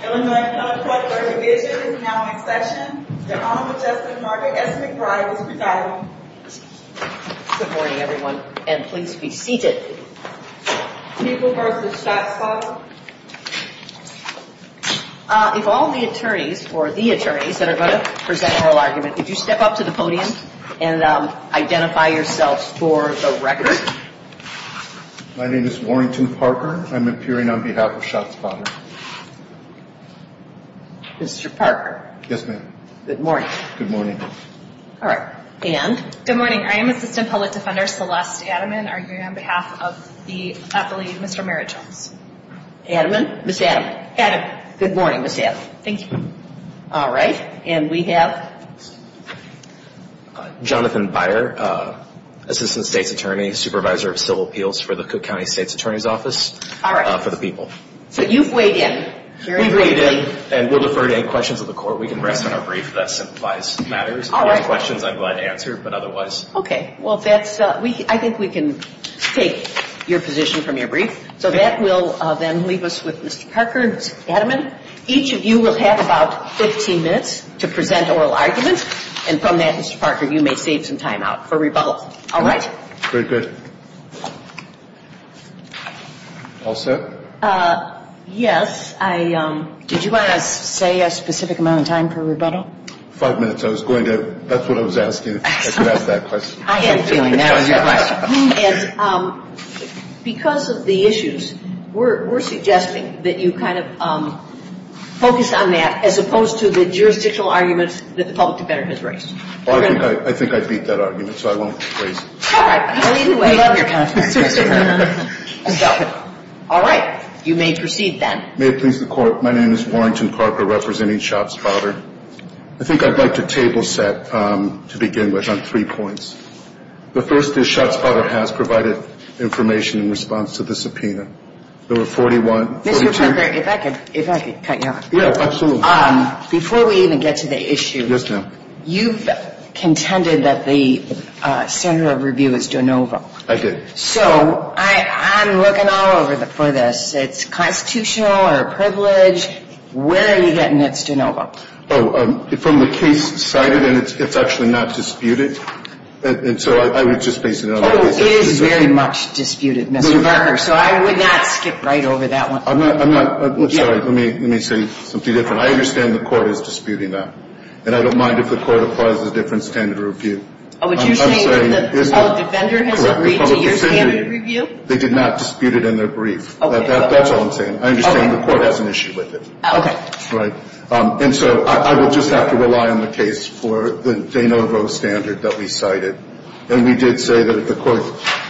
Good morning everyone, and please be seated. People v. Schatzfather If all the attorneys, or the attorneys, that are going to present oral arguments, could you step up to the podium and identify yourselves for the record? My name is Warrington Parker. I'm appearing on behalf of Schatzfather. Mr. Parker. Yes, ma'am. Good morning. Good morning. All right. And? Good morning. I am assistant public defender Celeste Adaman. I'm here on behalf of the appellee, Mr. Merritt Jones. Adaman? Ms. Adaman. Adaman. Good morning, Ms. Adaman. Thank you. All right. And we have? Jonathan Byer. Assistant State's Attorney, Supervisor of Civil Appeals for the Cook County State's Attorney's Office. All right. For the people. So you've weighed in. We've weighed in. And we'll defer to any questions of the court. We can rest on our brief. That simplifies matters. All right. Questions I'm glad to answer, but otherwise. Okay. Well, I think we can take your position from your brief. So that will then leave us with Mr. Parker, Adaman. Each of you will have about 15 minutes to present oral arguments. And from that, Mr. Parker, you may save some time out for rebuttal. All right. Very good. All set? Yes. Did you want to say a specific amount of time for rebuttal? Five minutes. I was going to. That's what I was asked to. I am doing that. Because of the issues, we're suggesting that you kind of focus on that as opposed to the jurisdictional argument that the public defender has raised. I think I beat that argument, so I won't. All right. You may proceed then. May it please the court, my name is Warrington Parker, representing Schott's father. I think I'd like to table set to begin with on three points. The first is Schott's father has provided information in response to the subpoena. Number 41. Mr. Parker, if I could cut you off. Yeah, absolutely. Before we even get to the issue, you've contended that the center of review is DeNova. I did. So I'm looking all over for this. It's constitutional or privileged. Where are you getting this DeNova? From the case cited, and it's affectionately not disputed. So I would just base it on that. It is very much disputed, Mr. Parker, so I would not skip right over that one. Let me say a few different things. I understand the court is disputing that. And I don't mind if the court applies a different standard of review. Oh, would you say that the public defender has agreed to a different standard of review? They did not dispute it in their brief. That's all I'm saying. I understand the court has an issue with it. And so I would just have to rely on the case for the DeNovo standard that we cited. And we did say that if the court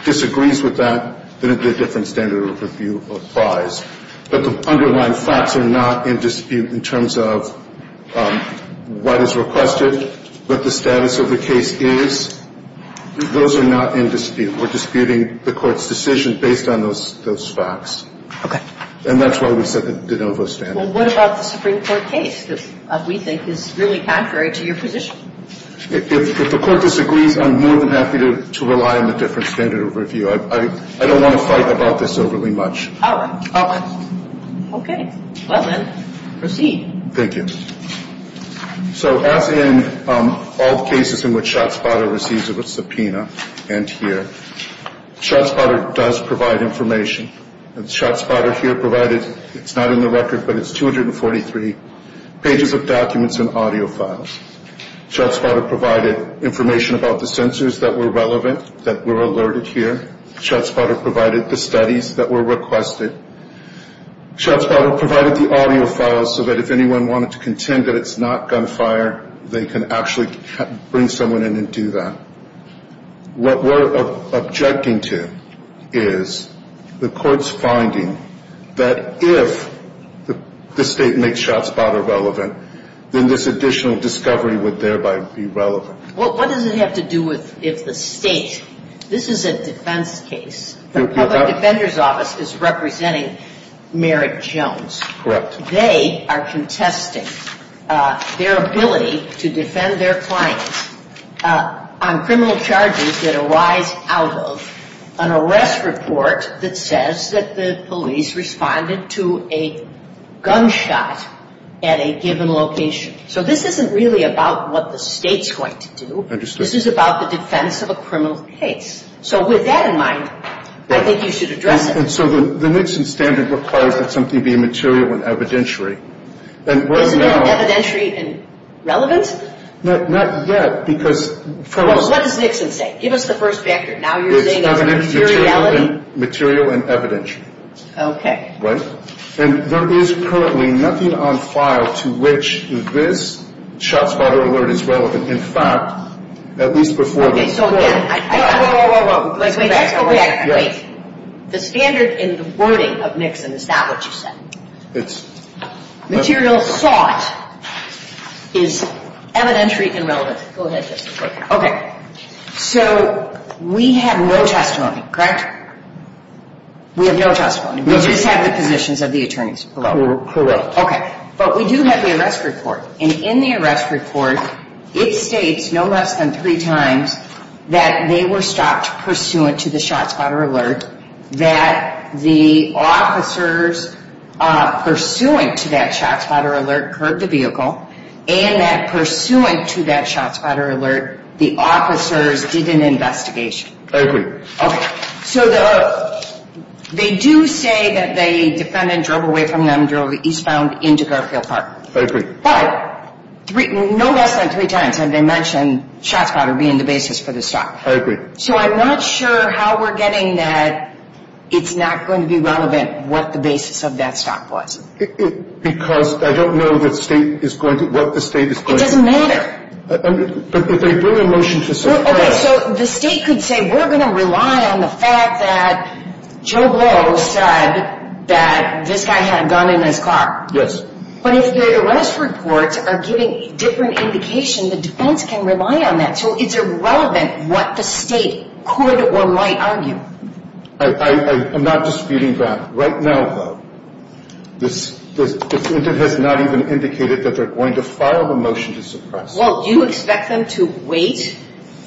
disagrees with that, then it's a different standard of review applies. But the underlying facts are not in dispute in terms of what is requested, what the status of the case is. Those are not in dispute. We're disputing the court's decision based on those facts. And that's why we said the DeNovo standard. Well, what about the Supreme Court case that we think is really contrary to your position? If the court disagrees, I'm more than happy to rely on a different standard of review. I don't want to fight about this overly much. All right. Okay. Well, then, proceed. Thank you. So as in all cases in which ShotSpotter receives a subpoena, and here, ShotSpotter does provide information. And ShotSpotter here provided, it's not in the record, but it's 243 pages of documents and audio files. ShotSpotter provided information about the sensors that were relevant that were alerted here. ShotSpotter provided the studies that were requested. ShotSpotter provided the audio files so that if anyone wanted to contend that it's not gunfire, they can actually bring someone in and do that. What we're objecting to is the court's finding that if the state makes ShotSpotter relevant, then this additional discovery would thereby be relevant. Well, what does it have to do with if the state? This is a defense case. The public defender's office is representing Merrick Jones. Correct. They are contesting their ability to defend their clients on criminal charges that arise out of an arrest report that says that the police responded to a gunshot at a given location. So this isn't really about what the state's going to do. Understood. This is about the defense of a criminal case. So with that in mind, I think you should address it. And so the Nixon standard requires that something be material and evidentiary. Is the term evidentiary relevant? Not yet, because... Well, what does Nixon say? Give us the first factor. Now you're saying it's material and evidentiary. Material and evidentiary. Okay. Right? And there is currently nothing on file to which this ShotSpot alert is relevant. In fact, at least before this... Whoa, whoa, whoa. The standard in the wording of Nixon is not what you said. Oops. Material thought is evidentiary and relevant. Go ahead. Okay. So we have no testimony, correct? We have no testimony. We just have the positions of the attorneys. Correct. Okay. But we do have the arrest report. And in the arrest report, it states no less than three times that they were stopped pursuant to the ShotSpot alert, that the officers pursuant to that ShotSpot alert heard the vehicle, and that pursuant to that ShotSpot alert, the officers did an investigation. I agree. Okay. So they do say that the defendant drove away from the underground eastbound into Garfield Park. I agree. But no less than three times have they mentioned ShotSpot as being the basis for the stop. I agree. So I'm not sure how we're getting that it's not going to be relevant what the basis of that stop was. Because I don't know what the state is going to do. It doesn't matter. But they did a motion to say that. Okay. So the state could say we're going to rely on the fact that Joe Boe said that this guy had a gun in his car. Yes. But if their arrest reports are giving different indications, the defense can rely on that. So it's irrelevant what the state could or might argue. I'm not disputing that. Right now, though, the defendant has not even indicated that they're going to file the motion to suppress. Well, do you expect them to wait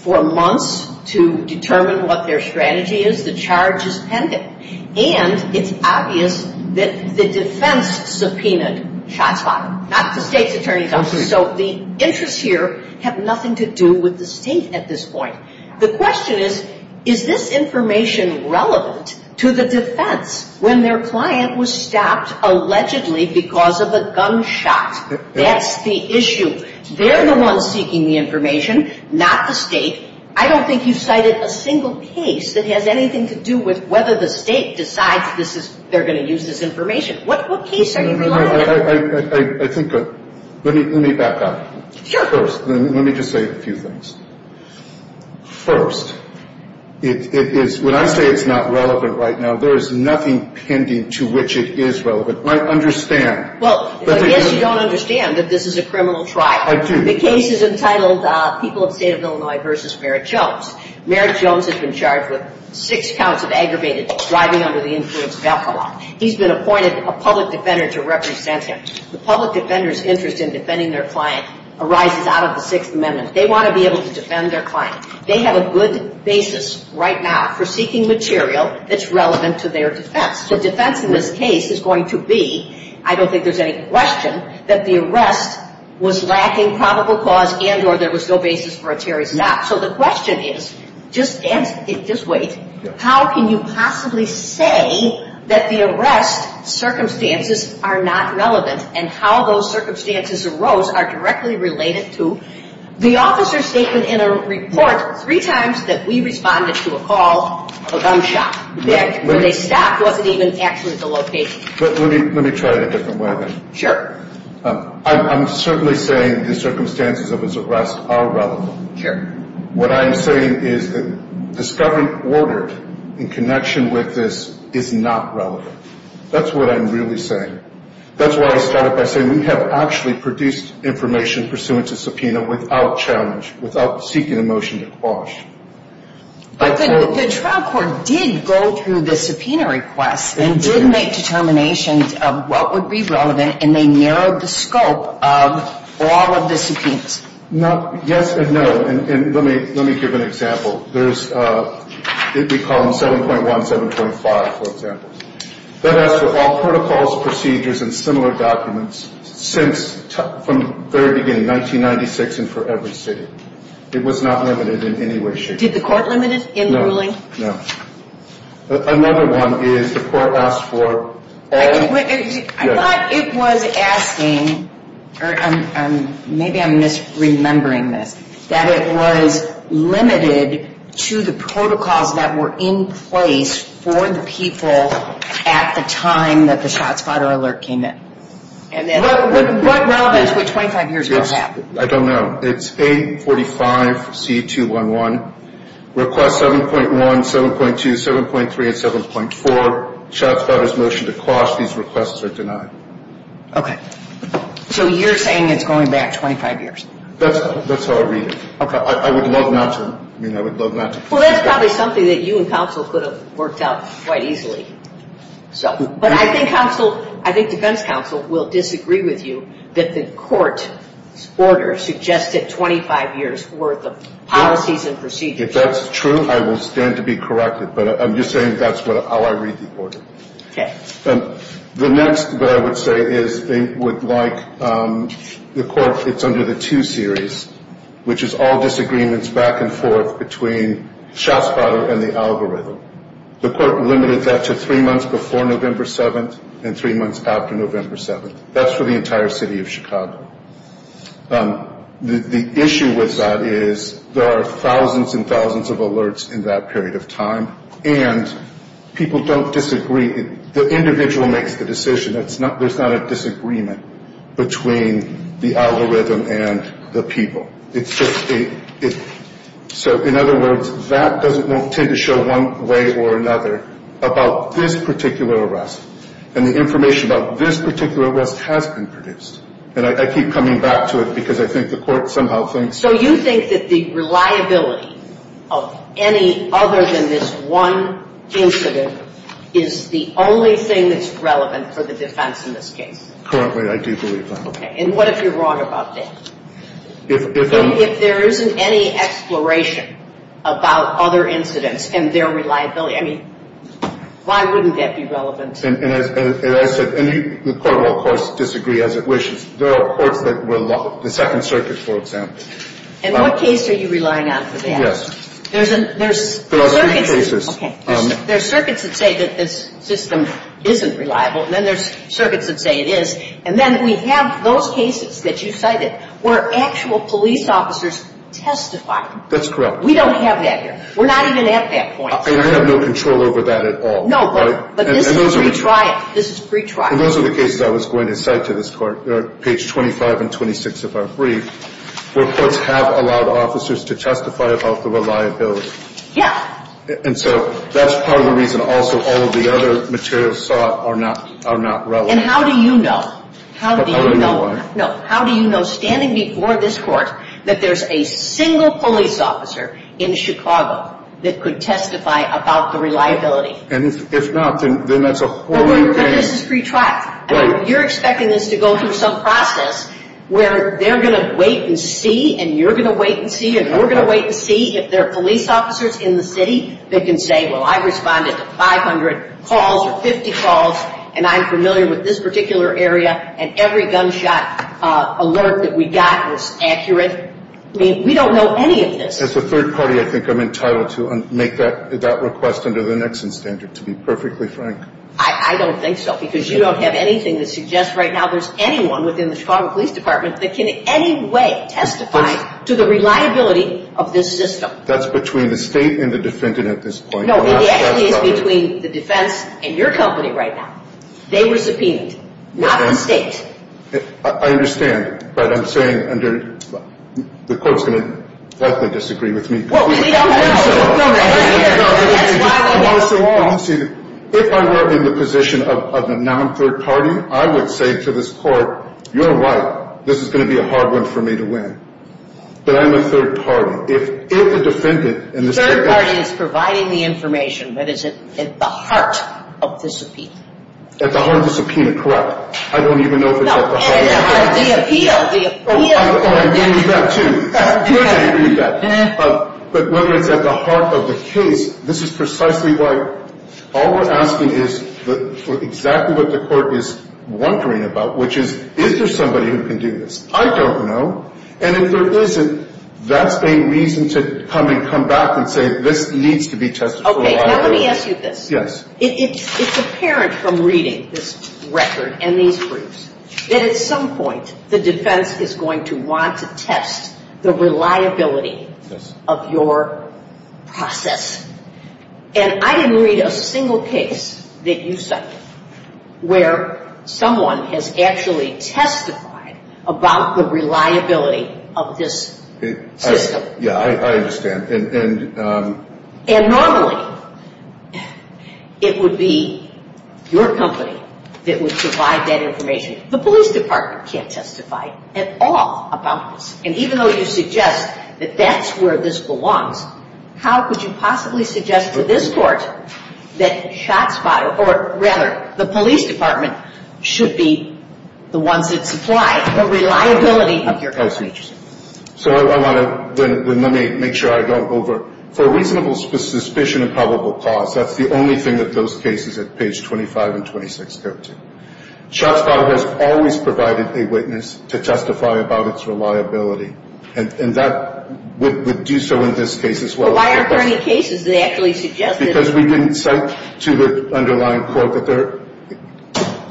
for months to determine what their strategy is? The charge is pending. And it's obvious that the defense subpoenaed ShotSpot, not the state attorney. So the interests here have nothing to do with the state at this point. The question is, is this information relevant to the defense when their client was stopped allegedly because of a gunshot? That's the issue. They're the ones seeking the information, not the state. I don't think you cited a single case that has anything to do with whether the state decides they're going to use this information. What case are you talking about? Let me back up. Sure. First, let me just say a few things. First, when I say it's not relevant right now, there is nothing pending to which it is relevant. I understand. Well, I guess you don't understand that this is a criminal trial. The case is entitled People of State of Illinois v. Merritt Jones. Merritt Jones has been charged with six counts of aggravated driving under the influence of alcohol. He's been appointed a public defender to represent him. The public defender's interest in defending their client arises out of the Sixth Amendment. They want to be able to defend their client. They have a good basis right now for seeking material that's relevant to their defense. The defense in this case is going to be, I don't think there's any question, that the arrest was lacking probable cause and or there was no basis for a charge not. So the question is, just wait, how can you possibly say that the arrest circumstances are not relevant and how those circumstances arose are directly related to the officer's statement in a report three times that we responded to a call of a gunshot. That wasn't even actually the location. Let me try it a different way. Sure. I'm certainly saying the circumstances of his arrest are relevant. Sure. What I'm saying is that discovering order in connection with this is not relevant. That's what I'm really saying. That's why I started by saying we have actually produced information pursuant to subpoena without challenge, without seeking a motion to quash. But the trial court did go through the subpoena request and did make determinations of what would be relevant and they narrowed the scope of all of the subpoenas. Yes and no, and let me give an example. There's, we call them 7.1 and 7.5, for example. That's with all protocols, procedures, and similar documents since from the very beginning, 1996 and for every city. It was not limited in any way, shape, or form. Did the court limit it in the ruling? No. Another one is the court asked for all- I thought it was asking, or maybe I'm misremembering this, that it was limited to the protocols that were in place for the people at the time that the Shots Fired Alert came in. What now is the 25 years going to have? I don't know. It's 845C211. Request 7.1, 7.2, 7.3, and 7.4, Shots Fired's motion to quash these requests are denied. Okay. So you're saying it's going back 25 years? That's how I read it. I would love not to- Well, that's probably something that you and counsel could have worked out quite easily. But I think defense counsel will disagree with you that the court's order suggested 25 years for the policies and procedures. If that's true, I will stand to be corrected, but I'm just saying that's how I read the court. Okay. The next thing I would say is I would like the court- it's under the two series, which is all disagreements back and forth between Shots Fired and the algorithm. The court limited that to three months before November 7th and three months after November 7th. That's for the entire city of Chicago. The issue with that is there are thousands and thousands of alerts in that period of time, and people don't disagree. The individual makes the decision. There's not a disagreement between the algorithm and the people. So, in other words, that doesn't tend to show one way or another about this particular arrest. And information about this particular arrest has been produced. And I keep coming back to it because I think the court somehow thinks- The only thing that's relevant for the defense in this case. Currently, I do believe that. Okay. And what if you're wrong about this? If there isn't any exploration about other incidents and their reliability, I mean, why wouldn't that be relevant? And as I said, the court will, of course, disagree as it wishes. There are courts that will- the Second Circuit, for example. In what case are you relying on for that? Yes. There's a- There are three cases. Okay. There's circuits that say that this system isn't reliable, and then there's circuits that say it is. And then we have those cases that you cited where actual police officers testify. That's correct. We don't have that yet. We're not even at that point. We have no control over that at all. No, but this is free trial. This is free trial. And those are the cases I was going to cite to this court, page 25 and 26 of our brief, where courts have allowed officers to testify about the reliability. Yes. And so that's part of the reason also all the other materials sought are not relevant. And how do you know? How do you know? How do you know? No. How do you know, standing before this court, that there's a single police officer in Chicago that could testify about the reliability? And if not, then that's a- Well, you said it's free trial. Right. And you're expecting this to go through some process where they're going to wait and see, and you're going to wait and see, and we're going to wait and see if there are police officers in the city that can say, well, I responded to 500 calls or 50 calls, and I'm familiar with this particular area, and every gunshot alert that we got was accurate. I mean, we don't know any of this. As a third party, I think I'm entitled to make that request under the Nixon standard to be perfectly frank. I don't think so, because you don't have anything that suggests right now there's anyone within the Chicago Police Department that can in any way testify to the reliability of this discussion. That's between the state and the defendant at this point. No, it's the exigence between the defense and your company right now. They were subpoenaed, not the state. I understand, but I'm saying under- the court's going to likely disagree with me. Well, we don't know. If I were in the position of a non-third party, I would say to this court, you're right, this is going to be a hard one for me to win. But I'm a third party. If it's a defendant- Third party is providing the information that is at the heart of the subpoena. At the heart of the subpoena, correct. I don't even know if it's at the heart of the subpoena. No, and the appeal- I agree with that, too. I agree with that. But when it's at the heart of the case, this is precisely why all we're asking is for exactly what the court is wondering about, which is, is there somebody who can do this? I don't know. And if there isn't, that's a reason to come and come back and say, this needs to be tested. Okay, now let me ask you this. Yes. It's apparent from reading this record and these briefs that at some point, the defense is going to want to test the reliability of your process. And I didn't read a single case that you cited where someone has actually testified about the reliability of this system. Yeah, I understand. And normally, it would be your company that would provide that information. The police department can't testify at all about this. And even though you suggest that that's where this belongs, how could you possibly suggest to this court that Shots Fired, or rather, the police department, should be the ones that provide the reliability of your process? That's interesting. So, I want to- let me make sure I don't over- for reasonable suspicion and probable cause, that's the only thing that those cases at page 25 and 26, 13. Shots Fired has always provided a witness to testify about its reliability. And that would do so in this case as well. So, why aren't there any cases that actually suggest this? Because we didn't cite to the underlying court that there-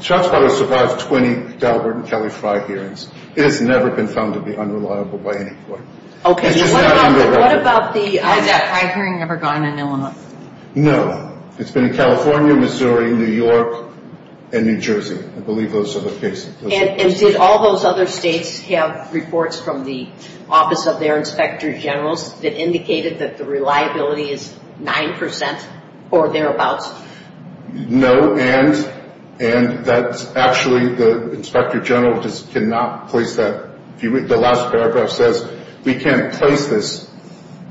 Shots Fired has survived 20 Delbert and Kelly flight hearings. It has never been found to be underlined by any court. Okay. What about the- I've never gone in Illinois. No. It's been in California, Missouri, New York, and New Jersey. I believe those are the cases. And did all those other states have reports from the office of their inspector general that indicated that the reliability is 9% or thereabouts? No, and that's actually- the inspector general just cannot place that- the last paragraph says we can't place this.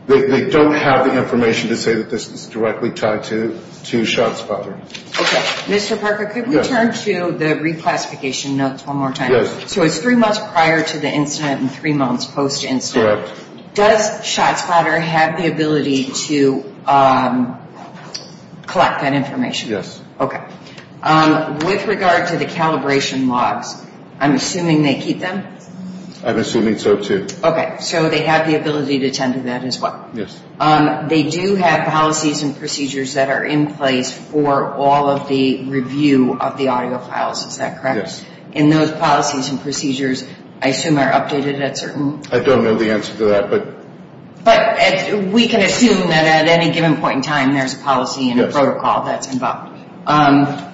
They don't have the information to say that this is directly tied to Shots Fired. Okay. Mr. Parker, could we turn to the re-classification notes one more time? Yes. So, it's three months prior to the incident and three months post-incident. Correct. Does Shots Fired have the ability to collect that information? Yes. Okay. With regard to the calibration logs, I'm assuming they keep them? I'm assuming so, too. Okay. So, they have the ability to attend to that as well? Yes. They do have policies and procedures that are in place for all of the review of the audio files, is that correct? Yes. And those policies and procedures, I assume, are updated at certain- I don't know the answer to that, but- But we can assume that at any given point in time, there's a policy and a protocol that's involved. Yes.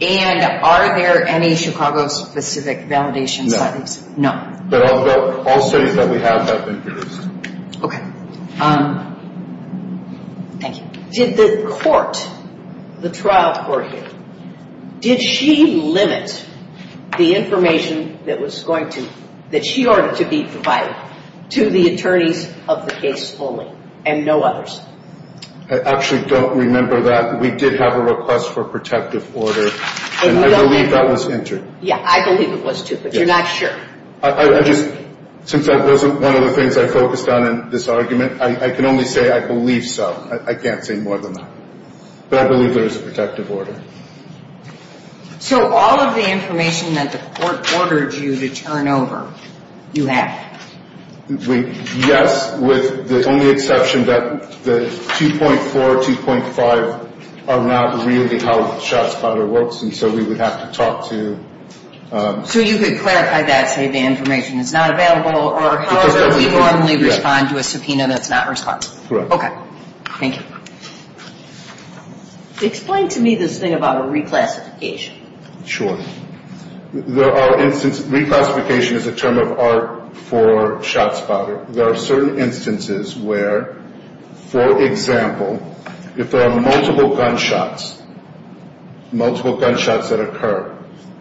And are there any Chicago-specific validation studies? No. No. I'll say that we have that in place. Okay. Thank you. Did the court, the trial court, did she limit the information that she ordered to be provided to the attorney of the case only and no others? I actually don't remember that. We did have a request for protective order and I believe that was entered. Yeah, I believe it was, too, but you're not sure. I just, since that wasn't one of the things I focused on in this argument, I can only say I believe so. I can't say more than that. But I believe there is a protective order. So all of the information that the court ordered you to turn over, you have? Yes, with the only exception that the 2.4, 2.5 are not really held just by the works and so we would have to talk to- So you would clarify that, say the information is not available or we normally respond to a subpoena that's not responsible. Correct. Okay. Thank you. Explain to me this thing about reclassification. Sure. There are instances, reclassification is a term of art for shots fired. There are certain instances where, for example, if there are multiple gunshots, multiple gunshots that occur,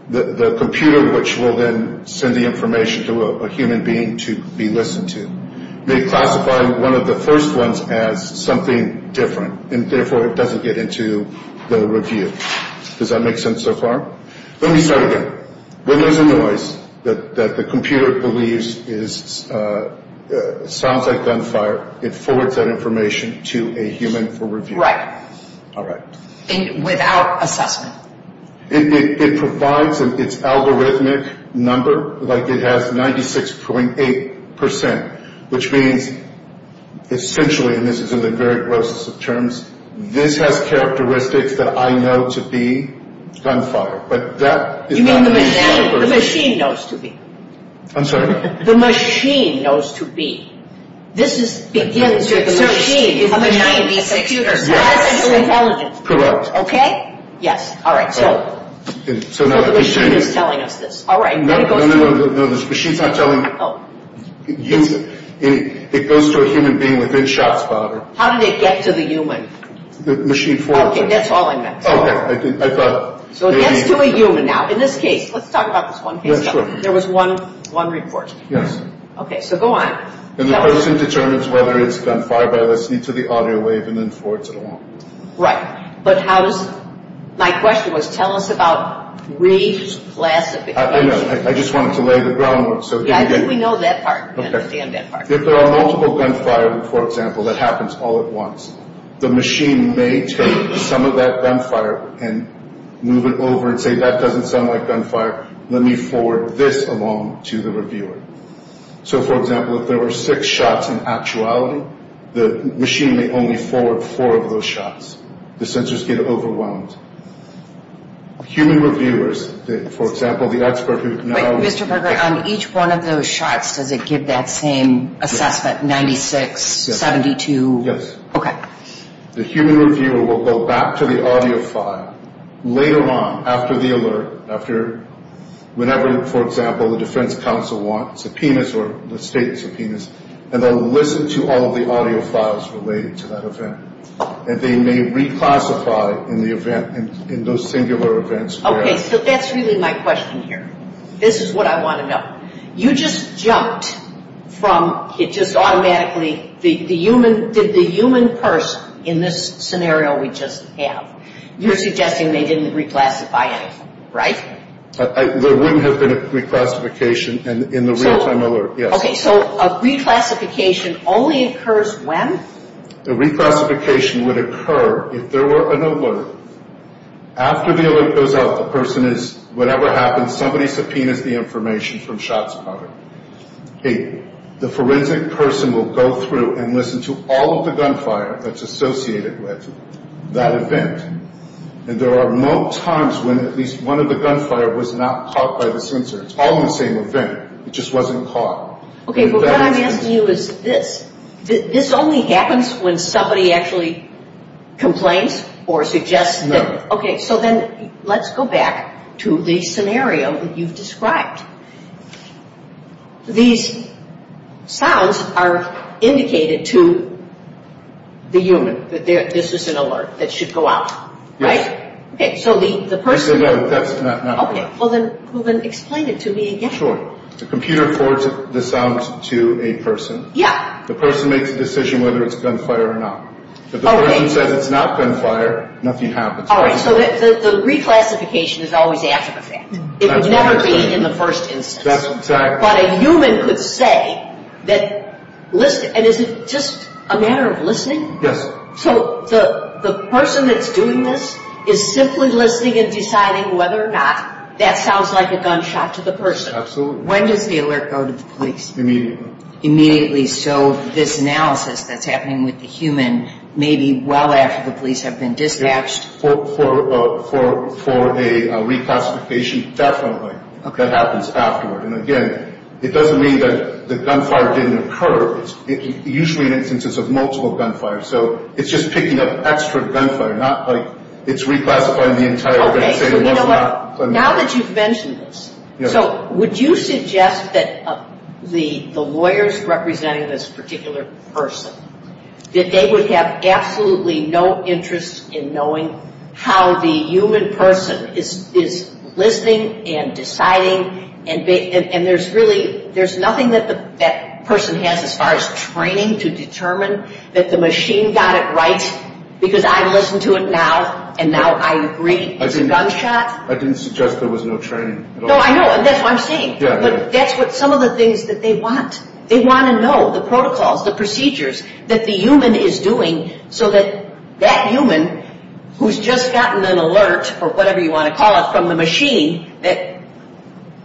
the computer, which will then send the information to a human being to be listened to, may classify one of the first ones as something different and therefore it doesn't get into the review. Does that make sense so far? Let me start again. When there's a noise that the computer believes sounds like gunfire, it forwards that information to a human for review. Right. All right. Without assessment. It provides an algorithmic number, like it has 96.8%, which means essentially, and this is in the very grossest of terms, this has characteristics that I know to be gunfire. But that is not- You mean the machine knows to be. I'm sorry? The machine knows to be. This begins with the machine. The machine is the computer. Correct. Okay? Yes. All right. The machine is telling us this. All right. No, the machine's not telling you. It goes to a human being with good shots fired. How did it get to the human? The machine forwarded it. Okay, that's all I meant. Okay. I thought maybe- So it gets to a human now. In this case, let's talk about this one thing. Yeah, sure. There was one report. Yes. Okay, so go on. And the person determines whether it's gunfire by listening to the audio wave and then forwards it along. Right. But how- My question was, tell us about briefs, classifications. I just wanted to lay the groundwork. Yeah, I think we know that part. We understand that part. Okay. If there are multiple gunfire report samples that happens all at once, the machine may take some of that gunfire and move it over and say, that doesn't sound like gunfire. Let me forward this along to the reviewer. So, for example, if there were six shots in actuality, the machine may only forward four of those shots. The censors get overwhelmed. Human reviewers, for example, the expert- Mr. Berger, on each one of those shots, does it give that same assessment, 96, 72? Yes. Okay. The human reviewer will go back to the audio file later on, after the alert, after whenever, for example, the defense counsel wants subpoenas or the state subpoenas, and they'll listen to all of the audio files related to that event. And they may reclassify in the event, in those singular events. Okay, so that's really my question here. This is what I want to know. You just jumped from, it just automatically, did the human person in this scenario we just have, you're suggesting they didn't reclassify it, right? There wouldn't have been a reclassification in the real-time alert. Okay, so a reclassification only occurs when? A reclassification would occur if there were an alert. After the alert goes off, the person is, whatever happens, somebody subpoenas the information from shots counted. The forensic person will go through and listen to all of the gunfire that's associated with that event. And there are no times when at least one of the gunfire was not caught by the sensor. It's all on the same event. It just wasn't caught. Okay, but what I'm asking you is this. This only happens when somebody actually complains or suggests this. Okay, so then let's go back to the scenario you've described. These sounds are indicated to the human that this is an alert that should go out, right? Yes. Okay, so the person... No, that's not right. Okay, well then explain it to me again. Sure. The computer reports the sounds to a person. Yeah. The person makes a decision whether it's gunfire or not. Okay. If the person says it's not gunfire, nothing happens. All right, so the reclassification is always after the fact. It would never be in the first instance. That's exactly right. But a human could say that, and is it just a matter of listening? Yes. So the person that's doing this is simply listening and deciding whether or not that sounds like a gunshot to the person. Absolutely. When does the alert go to the police? Immediately. Immediately, so this analysis that's happening with the human may be well after the police have been dispatched. For a reclassification, definitely. Okay. That happens afterward. And, again, it doesn't mean that the gunfire didn't occur. It's usually an instance of multiple gunfire. So it's just picking up extra gunfire, not like it's reclassifying the entire... Okay, you know what? Now that you've mentioned this, so would you suggest that the lawyers representing this particular person, that they would have absolutely no interest in knowing how the human person is listening and deciding, and there's nothing that that person has as far as training to determine that the machine got it right, because I've listened to it now, and now I agree it's a gunshot? I didn't suggest there was no training. No, I know. I'm saying, but that's what some of the things that they want. They want to know the protocols, the procedures that the human is doing so that that human, who's just gotten an alert, or whatever you want to call it, from the machine, that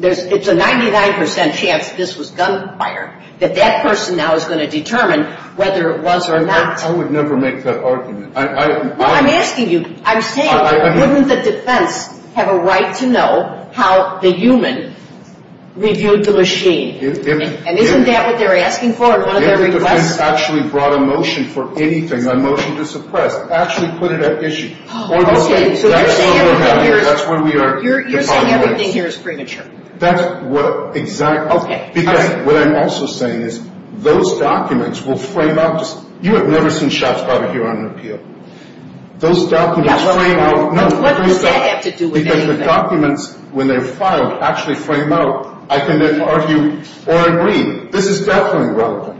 it's a 99% chance this was gunfire, that that person now is going to determine whether it was or not. I would never make that argument. Well, I'm asking you. I'm saying, wouldn't the defense have a right to know how the human reviewed the machine? And isn't that what they're asking for? If the defense actually brought a motion for anything, a motion to suppress, actually put it at issue. Oh, okay. That's where we are. You're saying everything here is premature. That's what exactly. Okay. Because what I'm also saying is those documents will frame up. You have never seen shots fired here on an appeal. Those documents frame up. What does that have to do with anything? Because the documents, when they're filed, actually frame up. I can then argue or agree. This is definitely wrong.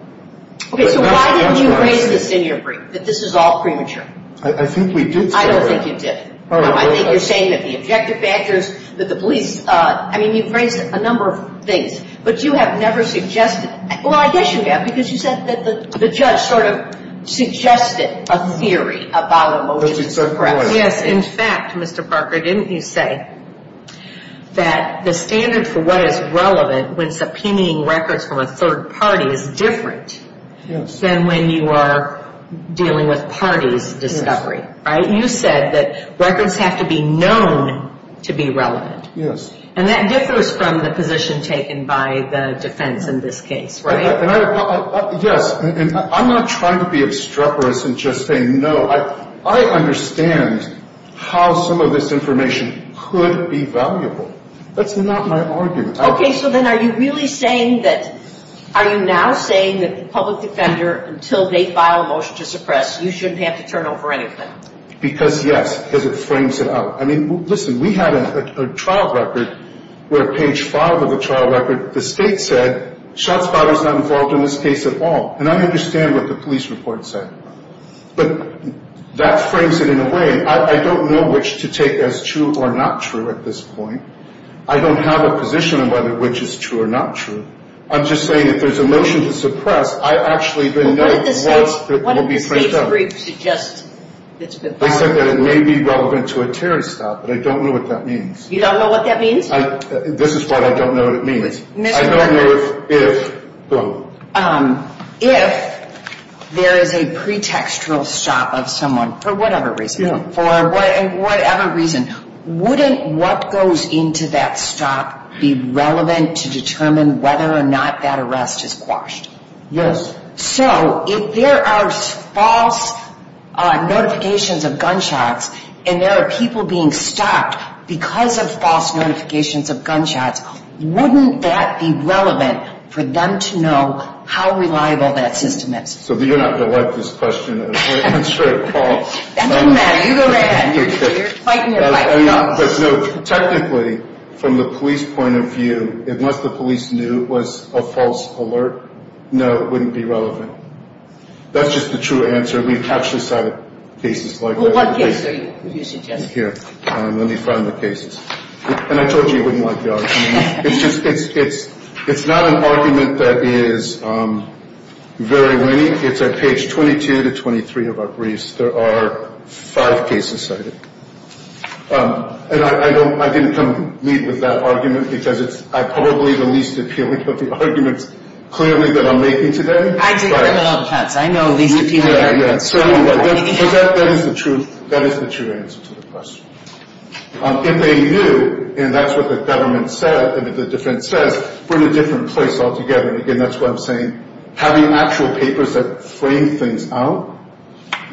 Okay. So why do you think greater than you're free, that this is all premature? I think we did. I don't think you did. I think you're saying that the objective factors, that the police, I mean, you've framed a number of things. But you have never suggested. Well, I guess you have because you said that the judge sort of suggested a theory about a motion to suppress. Yes. In fact, Mr. Parker, didn't you say that the standard for what is relevant when subpoenaing records from a third party is different than when you are dealing with parties discovery? Right? You said that records have to be known to be relevant. Yes. And that differs from the position taken by the defense in this case. Right. Yes. I'm not trying to be obstreperous in just saying no. I understand how some of this information could be valuable. That's not my argument. Okay. So then are you really saying that, are you now saying that the public defender, until they file a motion to suppress, you shouldn't have to turn over anything? Because, yes. Because it frames it up. I mean, listen, we had a trial record where page five of the trial record, the state said, shots fired is not involved in this case at all. And I understand what the police report said. But that frames it in a way. I don't know which to take as true or not true at this point. I don't have a position on whether which is true or not true. I'm just saying if there's a motion to suppress, I actually then know what will be framed up. It may be relevant to a terrorist stop, but I don't know what that means. You don't know what that means? This is why I don't know what it means. I don't know if, though. If there is a pretextual stop of someone, for whatever reason, for whatever reason, wouldn't what goes into that stop be relevant to determine whether or not that arrest is quashed? Yes. So, if there are false notifications of gunshots and there are people being stopped because of false notifications of gunshots, wouldn't that be relevant for them to know how reliable that system is? So, you're not going to let this question, am I right? That's right, Paul. That doesn't matter. You go ahead. You're fighting your life. Technically, from the police point of view, if not the police knew it was a false alert, no, it wouldn't be relevant. That's just the true answer. We've actually cited cases like this. What page are you using, Ted? Here. Let me find the cases. And I told you I wouldn't let you argue. It's not an argument that is very lenient. It's at page 22 to 23 of our briefs. There are five cases cited. And I didn't come to meet with that argument because it's probably the least appealing of the arguments, clearly, that I'm making today. I've heard that all the time. I know the opinion. That is the truth. That is the truth. If they knew, and that's what the government said, in a different sense, from a different place altogether, again, that's what I'm saying, having actual papers that frame things out,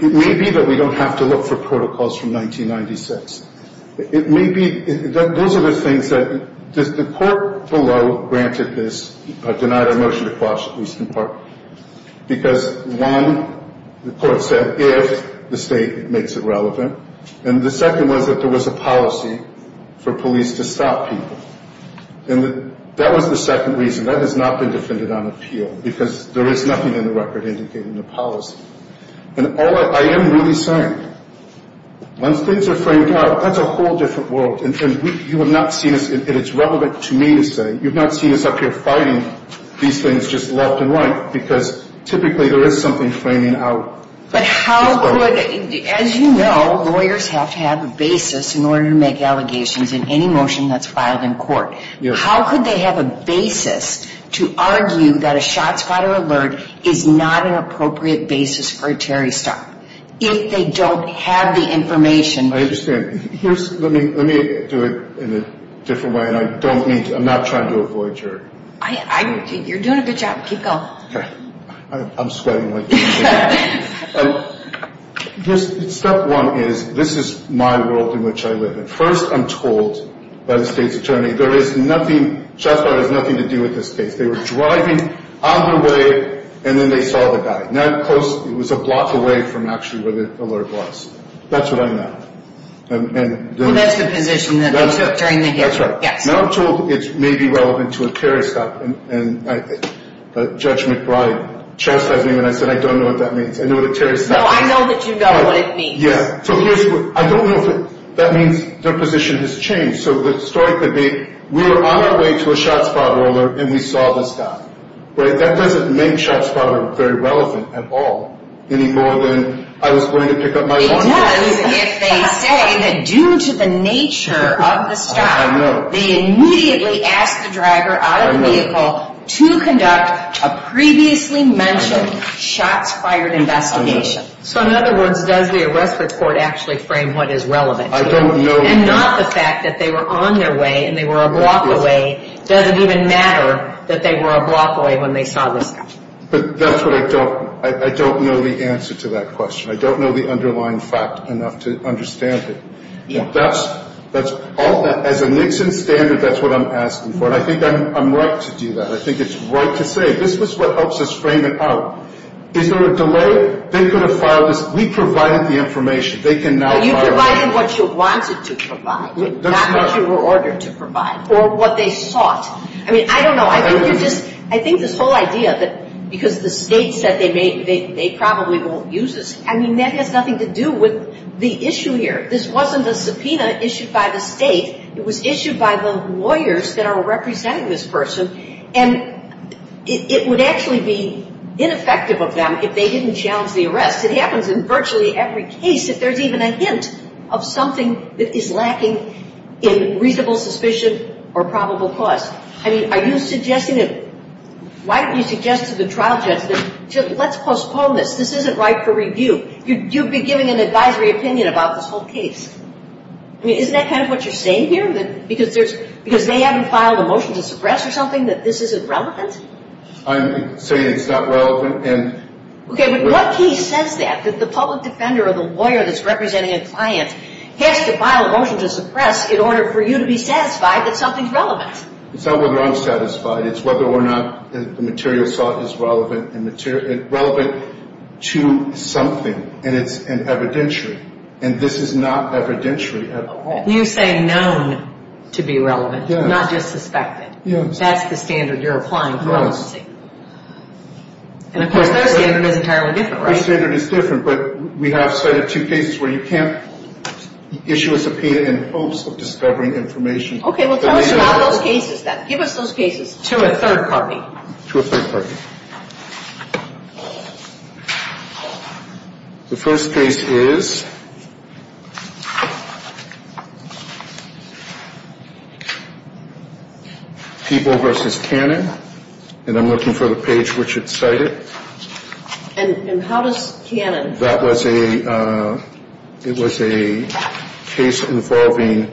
it may be that we don't have to look for protocols from 1996. It may be that those are the things that the court below granted this denial of motion to cross the police department. Because one, the court said, if the state makes it relevant. And the second was that there was a policy for police to stop people. And that was the second reason. That has not been defended on appeal because there is nothing in the record indicating the policy. And all I am really saying, when things are framed out, that's a whole different world. And you have not seen, and it's relevant to me to say, you have not seen us up here fighting these things just left and right because typically there is something framing out. But how could, as you know, lawyers have to have a basis in order to make allegations in any motion that's filed in court. How could they have a basis to argue that a shot, spot, or alert is not an appropriate basis for a charity stop? If they don't have the information. I understand. Let me do it in a different way, and I don't mean to, I'm not trying to do it for a jury. I think you're doing a good job. Keep going. I'm sweating. Step one is, this is my world in which I live. First, I'm told by the state's attorney, there is nothing, shot spot has nothing to do with this case. They were driving on the way, and then they saw the guy. Now, of course, it was a block away from actually where the alert was. That's what I know. Well, that's the position that they took during the hearing. That's right. Now I'm told it may be relevant to a charity stop, and Judge McBride chastised me when I said I don't know what that means. No, I know that you know what it means. Yeah. I don't know if that means their position has changed. So the story could be, we were on our way to a shot spot, and we saw the stop. But that doesn't make shot spot very relevant at all. Any more than I was going to pick up my phone. It does if they say that due to the nature of the stop, they immediately ask the driver out of the vehicle to conduct a previously mentioned shot spotted investigation. So in other words, does the arrest report actually frame what is relevant? I don't know. And not the fact that they were on their way and they were a block away doesn't even matter that they were a block away when they saw the stop. But that's what I don't know. I don't know the answer to that question. I don't know the underlying fact enough to understand it. As a Nixon standard, that's what I'm asking for, and I think I'm right to do that. I think it's right to say this is what helps us frame it out. Is there a delay? They could have filed this. We provided the information. They can now file it. But you provided what you wanted to provide, not what you were ordered to provide or what they sought. I mean, I don't know. I think this whole idea that because the state said they probably won't use this, I mean, that has nothing to do with the issue here. This wasn't a subpoena issued by the state. It was issued by the lawyers that are representing this person. And it would actually be ineffective of them if they didn't challenge the arrest. It happens in virtually every case if there's even a hint of something that is lacking in reasonable suspicion or probable cause. I mean, are you suggesting that why don't you suggest to the trial justice, just let's postpone this. This isn't right for review. You'd be giving an advisory opinion about this whole case. Isn't that kind of what you're saying here? Because they haven't filed a motion to suppress or something, that this isn't relevant? I'm saying it's not relevant. Okay, but what he says is that the public defender or the lawyer that's representing his client has to file a motion to suppress in order for you to be satisfied that something's relevant. It's not whether I'm satisfied. It's whether or not the material assault is relevant to something and evidentiary. And this is not evidentiary at all. You're saying known to be relevant, not just suspected. That's the standard you're applying for honesty. And of course that again is entirely different, right? The standard is different, but we have two cases where you can't issue a subpoena in hopes of discovering information. Okay, well tell us about those cases then. Give us those cases. To a third party. To a third party. Okay. The first case is... People v. Cannon. And I'm looking for the page Richard cited. And how does Cannon... It was a case involving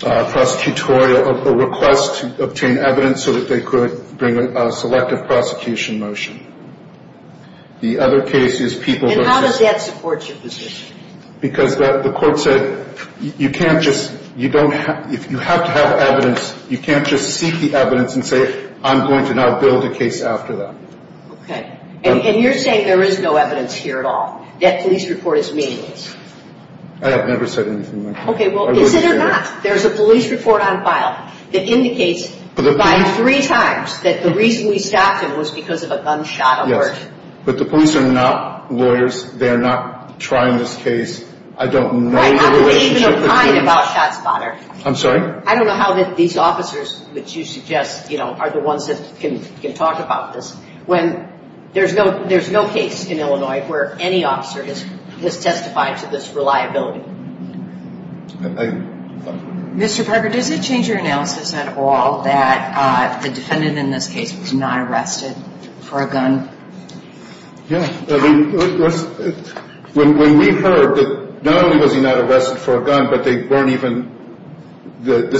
prosecutorial request to obtain evidence so that they could bring a selective prosecution motion. The other case is people... And how does that support your position? Because the court said you can't just... You have to have evidence. You can't just seek the evidence and say I'm going to now build a case after that. Okay. And you're saying there is no evidence here at all. That police report is meaningless. And I've never said anything like that. Okay, well, is it or not, there's a police report on file that indicates five, three times that the reason we stopped him was because of a gunshot alert. Yes. But the police are not lawyers. They are not trying this case. I don't know the relationship between... I'm sorry? I don't know how these officers that you suggest are the ones that can talk about this. There's no case in Illinois where any officer is testified to this reliability. Mr. Pepper, did it change your analysis at all that the defendant in this case was not arrested for a gun? Yes. When we heard that not only was he not arrested for a gun but they weren't even... then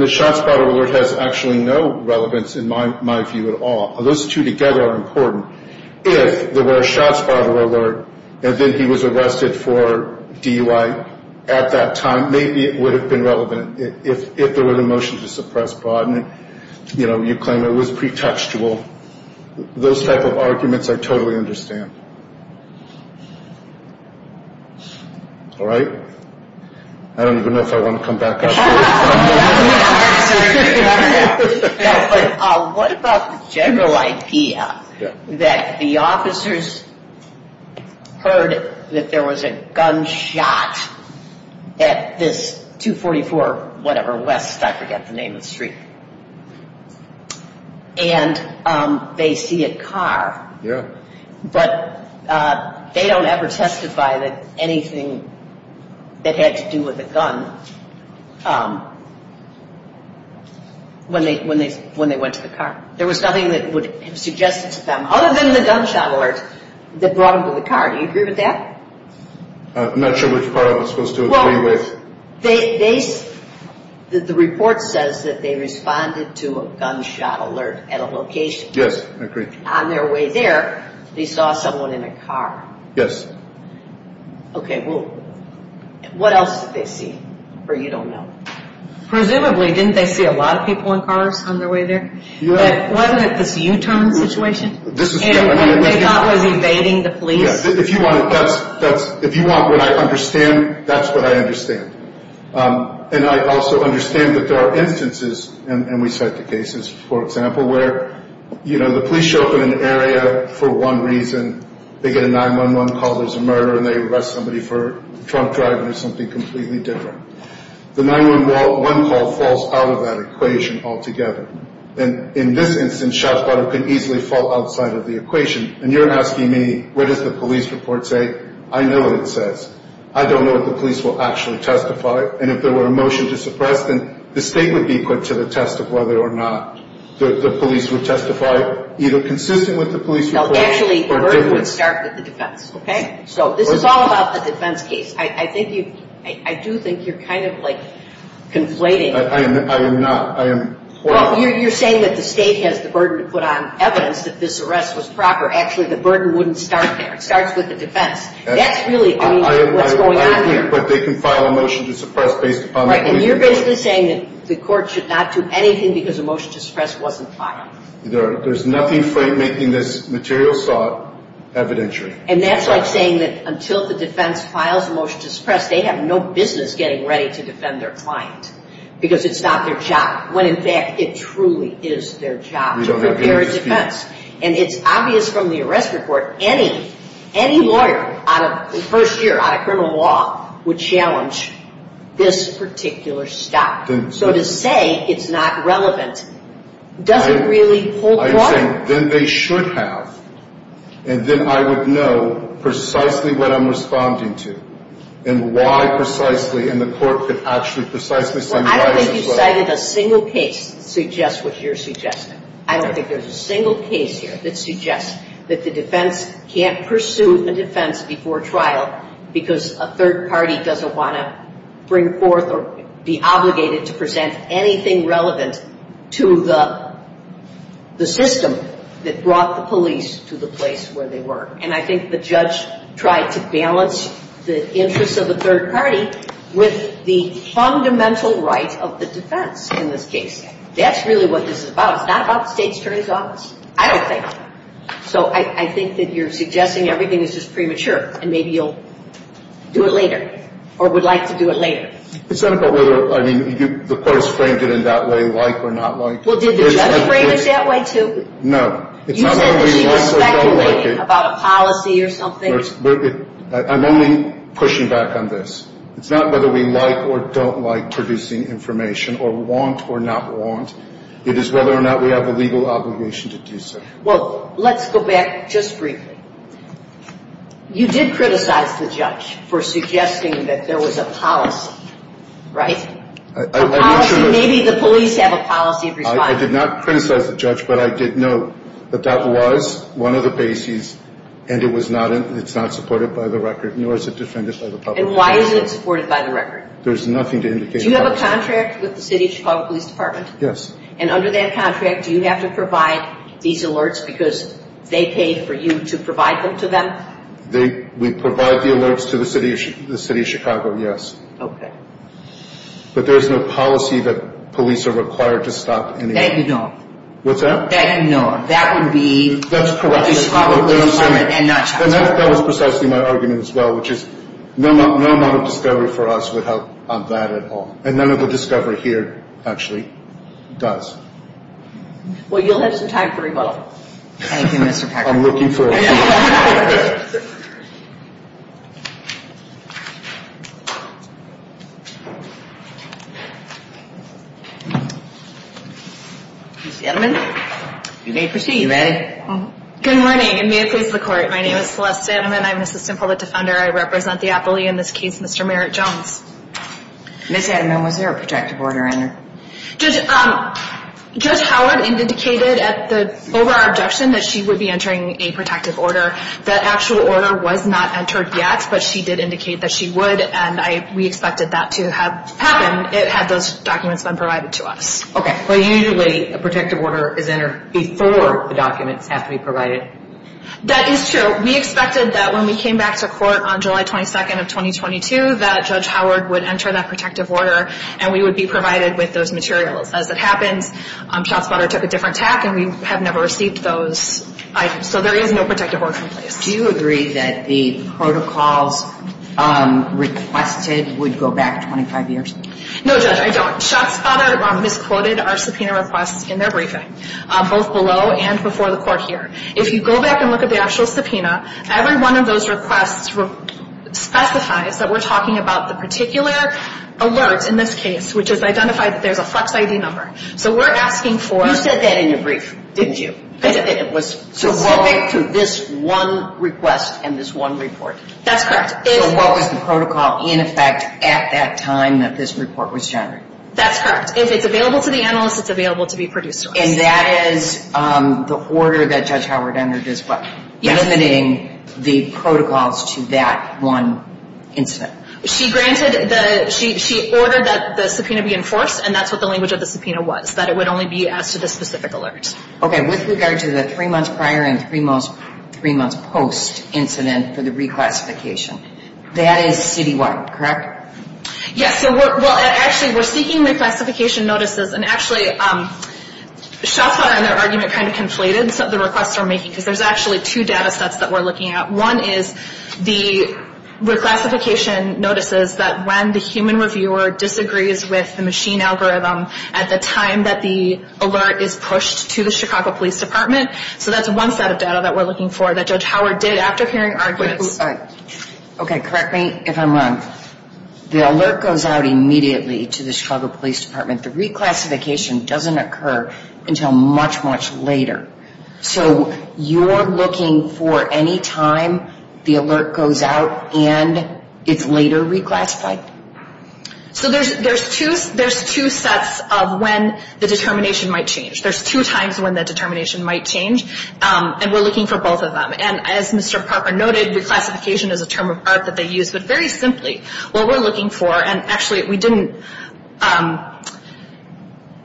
the shots fired alert has actually no relevance in my view at all. Those two together are important. If there were a shots fired alert and then he was arrested for DUI at that time, maybe it would have been relevant. If there was a motion to suppress fraud and, you know, you claim it was pretextual, those type of arguments are totally understandable. All right? I don't even know if I want to come back up here. What about the general idea that the officers heard that there was a gunshot at this 244 whatever West, I forget the name of the street. And they see a car. Yes. But they don't ever testify that anything that had to do with a gun when they went to the car. There was something that was suggested to them other than the gunshot alert that brought them to the car. Do you agree with that? I'm not sure which car I was supposed to agree with. Well, the report says that they responded to a gunshot alert at a location. Yes, I agree. On their way there, they saw someone in a car. Yes. Okay, well, what else did they see? Or you don't know? Presumably, didn't they see a lot of people in cars on their way there? Yes. Wasn't it the U-turn situation? This is definitely a U-turn. And wasn't there somebody evading the police? If you want what I understand, that's what I understand. And I also understand that there are instances, and we've had the cases, for example, where, you know, the police show up in an area for one reason. They get a 911 call, there's a murder, and they arrest somebody for drunk driving or something completely different. The 911 call falls out of that equation altogether. And in this instance, shots fired could easily fall outside of the equation. And you're asking me, what does the police report say? I know what it says. I don't know if the police will actually testify. And if there were a motion to suppress, then the state would be put to the test of whether or not the police will testify, either consistent with the police report or different. So, actually, the burden would start with the defense, okay? So, this is all about the defense case. I do think you're kind of, like, conflating. I am not. Well, you're saying that the state has the burden to put on evidence that this arrest was proper. Actually, the burden wouldn't start there. It starts with the defense. That's really what's going on here. But they can file a motion to suppress based upon that. And you're basically saying that the court should not do anything because a motion to suppress wasn't filed. There's nothing for it making this material thought evidentiary. And that's like saying that until the defense files a motion to suppress, they have no business getting ready to defend their client because it's not their job. When, in fact, it truly is their job to prepare a defense. And it's obvious from the arrest report, any lawyer, first year out of criminal law, would challenge this particular stuff. So, to say it's not relevant doesn't really hold water. Then they should have. And then I would know precisely what I'm responding to and why precisely. And the court could ask me precisely. I don't think you cited a single case suggests what you're suggesting. I don't think there's a single case here that suggests that the defense can't pursue a defense before trial because a third party doesn't want to bring forth or be obligated to present anything relevant to the system that brought the police to the place where they were. And I think the judge tried to balance the interest of the third party with the fundamental right of the defense in this case. That's really what this is about. It's not about the state attorney's office. I don't think. So, I think that you're suggesting everything is premature. And maybe you'll do it later or would like to do it later. It's not about whether the court has framed it in that way, like or not like. Well, did the judge frame it that way, too? No. You said that she was evaluating it about a policy or something. I'm only pushing back on this. It's not whether we like or don't like producing information or want or not want. It is whether or not we have a legal obligation to do so. Well, let's go back just briefly. You did criticize the judge for suggesting that there was a policy, right? I did not criticize the judge, but I did note that that was one of the bases and it's not supported by the record. And why is it not supported by the record? There's nothing to indicate that. Do you have a contract with the City of Chicago Police Department? Yes. And under that contract, do you have to provide these alerts because they paid for you to provide them to them? We provide the alerts to the City of Chicago, yes. Okay. But there is no policy that police are required to stop any... What's that? That is not. That would be... That's correct. And that was precisely my argument as well, which is no amount of discovery for us would help on that at all. And none of the discovery here actually does. Well, you'll have some time for a vote. Thank you, Mr. Taxman. I'm looking for a vote. Gentlemen, you may proceed. You ready? Okay. Good morning. In the name of the court, my name is Celeste Sandman. I'm the assistant public defender. I represent the appellee in this case, Mr. Merritt Jones. Ms. Haddon, was there a protective order in there? Judge Howard indicated over our objection that she would be entering a protective order. The actual order was not entered yet, but she did indicate that she would, and we expected that to have happened had those documents been provided to us. Okay, but usually a protective order is entered before the documents have to be provided. That is true. We expected that when we came back to court on July 22nd of 2022, that Judge Howard would enter that protective order, and we would be provided with those materials. As it happened, Schatzfather took a different path, and we have never received those items. So there is no protective order in this case. Do you agree that the protocols requested would go back 25 years? No, Judge, I don't. The court misquoted our subpoena request in their briefing, both below and before the court here. If you go back and look at the actual subpoena, every one of those requests specifies that we're talking about the particular alert in this case, which has identified that there is a flex ID number. So we're asking for- You said that in your briefing, didn't you? It was to relate to this one request and this one report. That's correct. So what was the protocol in effect at that time that this report was generated? That's correct. It's available to the analyst. It's available to the producer. And that is the order that Judge Howard entered this one, limiting the protocols to that one incident. She granted the- She ordered that the subpoena be enforced, and that's what the language of the subpoena was, that it would only be asked for this specific alert. Okay. With regard to the three months prior and three months post incident for the reclassification, that is City-wide, correct? Yes. Well, actually, we're seeking reclassification notices, and actually, Shasta and her argument kind of conflated some of the requests we're making, because there's actually two data sets that we're looking at. One is the reclassification notices that when the human reviewer disagrees with the machine algorithm at the time that the alert is pushed to the Chicago Police Department. So that's one set of data that we're looking for that Judge Howard did after hearing our request. Okay, correct me if I'm wrong. The alert goes out immediately to the Chicago Police Department. The reclassification doesn't occur until much, much later. So you're looking for any time the alert goes out and it's later reclassified? So there's two sets of when the determination might change. There's two times when the determination might change, and we're looking for both of them. And as Mr. Parker noted, reclassification is a term of art that they use, but very simply, what we're looking for, and actually, we didn't.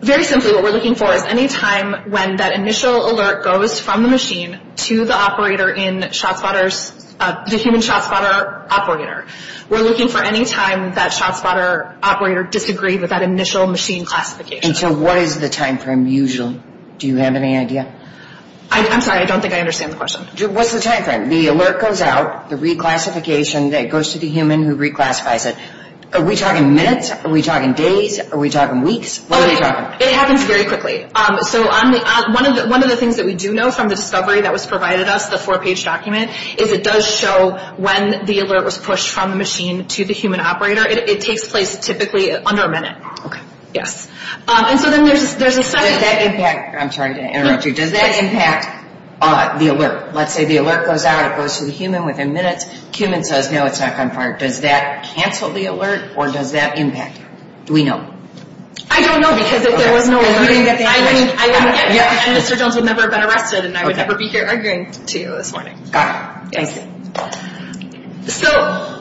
Very simply, what we're looking for is any time when that initial alert goes from the machine to the operator in Shasta, the human Shasta operator. We're looking for any time that Shasta operator disagreed with that initial machine classification. And so what is the time frame usually? Do you have any idea? I'm sorry, I don't think I understand the question. What's the time frame? The alert goes out, the reclassification, it goes to the human who reclassifies it. Are we talking minutes? Are we talking days? Are we talking weeks? It happens very quickly. So one of the things that we do know from the discovery that was provided us, the four-page document, is it does show when the alert was pushed from the machine to the human operator. It takes place typically under a minute. Okay. Yes. Does that impact the alert? Let's say the alert goes out. It goes to the human within minutes. The human says, no, it's not confirmed. Does that cancel the alert, or does that impact? Do we know? I don't know because there was no alert. Mr. Jones would never have been arrested, and I would never be here arguing to you this morning. Okay. Thank you. So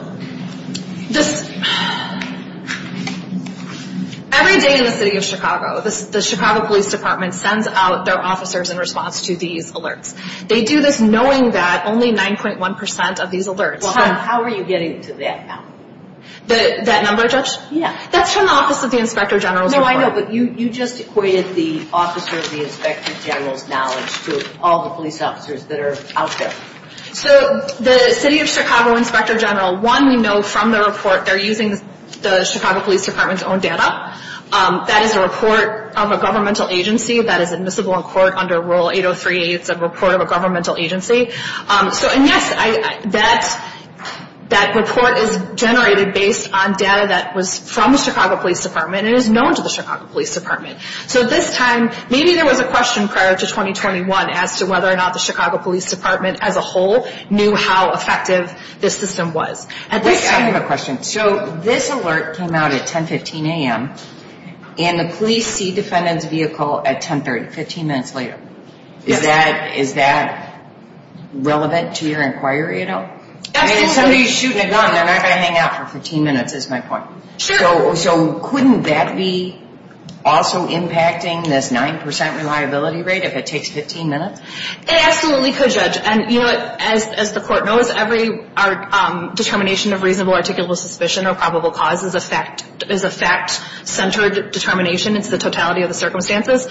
everything in the city of Chicago, the Chicago Police Department, sends out their officers in response to these alerts. They do this knowing that only 9.1% of these alerts. How are you getting to that now? That number, Judge? Yes. That's from the Office of the Inspector General's report. No, I know, but you just equated the Office of the Inspector General's knowledge to all the police officers that are out there. So the city of Chicago Inspector General, one, we know from the report, they're using the Chicago Police Department's own data. That is a report of a governmental agency that is admissible in court under Rule 803. It's a report of a governmental agency. And, yes, that report is generated based on data that was from the Chicago Police Department and is known to the Chicago Police Department. So this time, maybe there was a question prior to 2021 as to whether or not the Chicago Police Department as a whole knew how effective this system was. I have a question. So this alert came out at 10.15 a.m. and the police see defendants' vehicle at 10.30, 15 minutes later. Is that relevant to your inquiry at all? I mean, somebody's shooting a gun. They're not going to hang out for 15 minutes is my point. Sure. So couldn't that be also impacting this 9% reliability rate if it takes 15 minutes? It absolutely could, Judge. And, you know, as the court knows, every determination of reasonable articulable suspicion or probable cause is a fact-centered determination. It's the totality of the circumstances.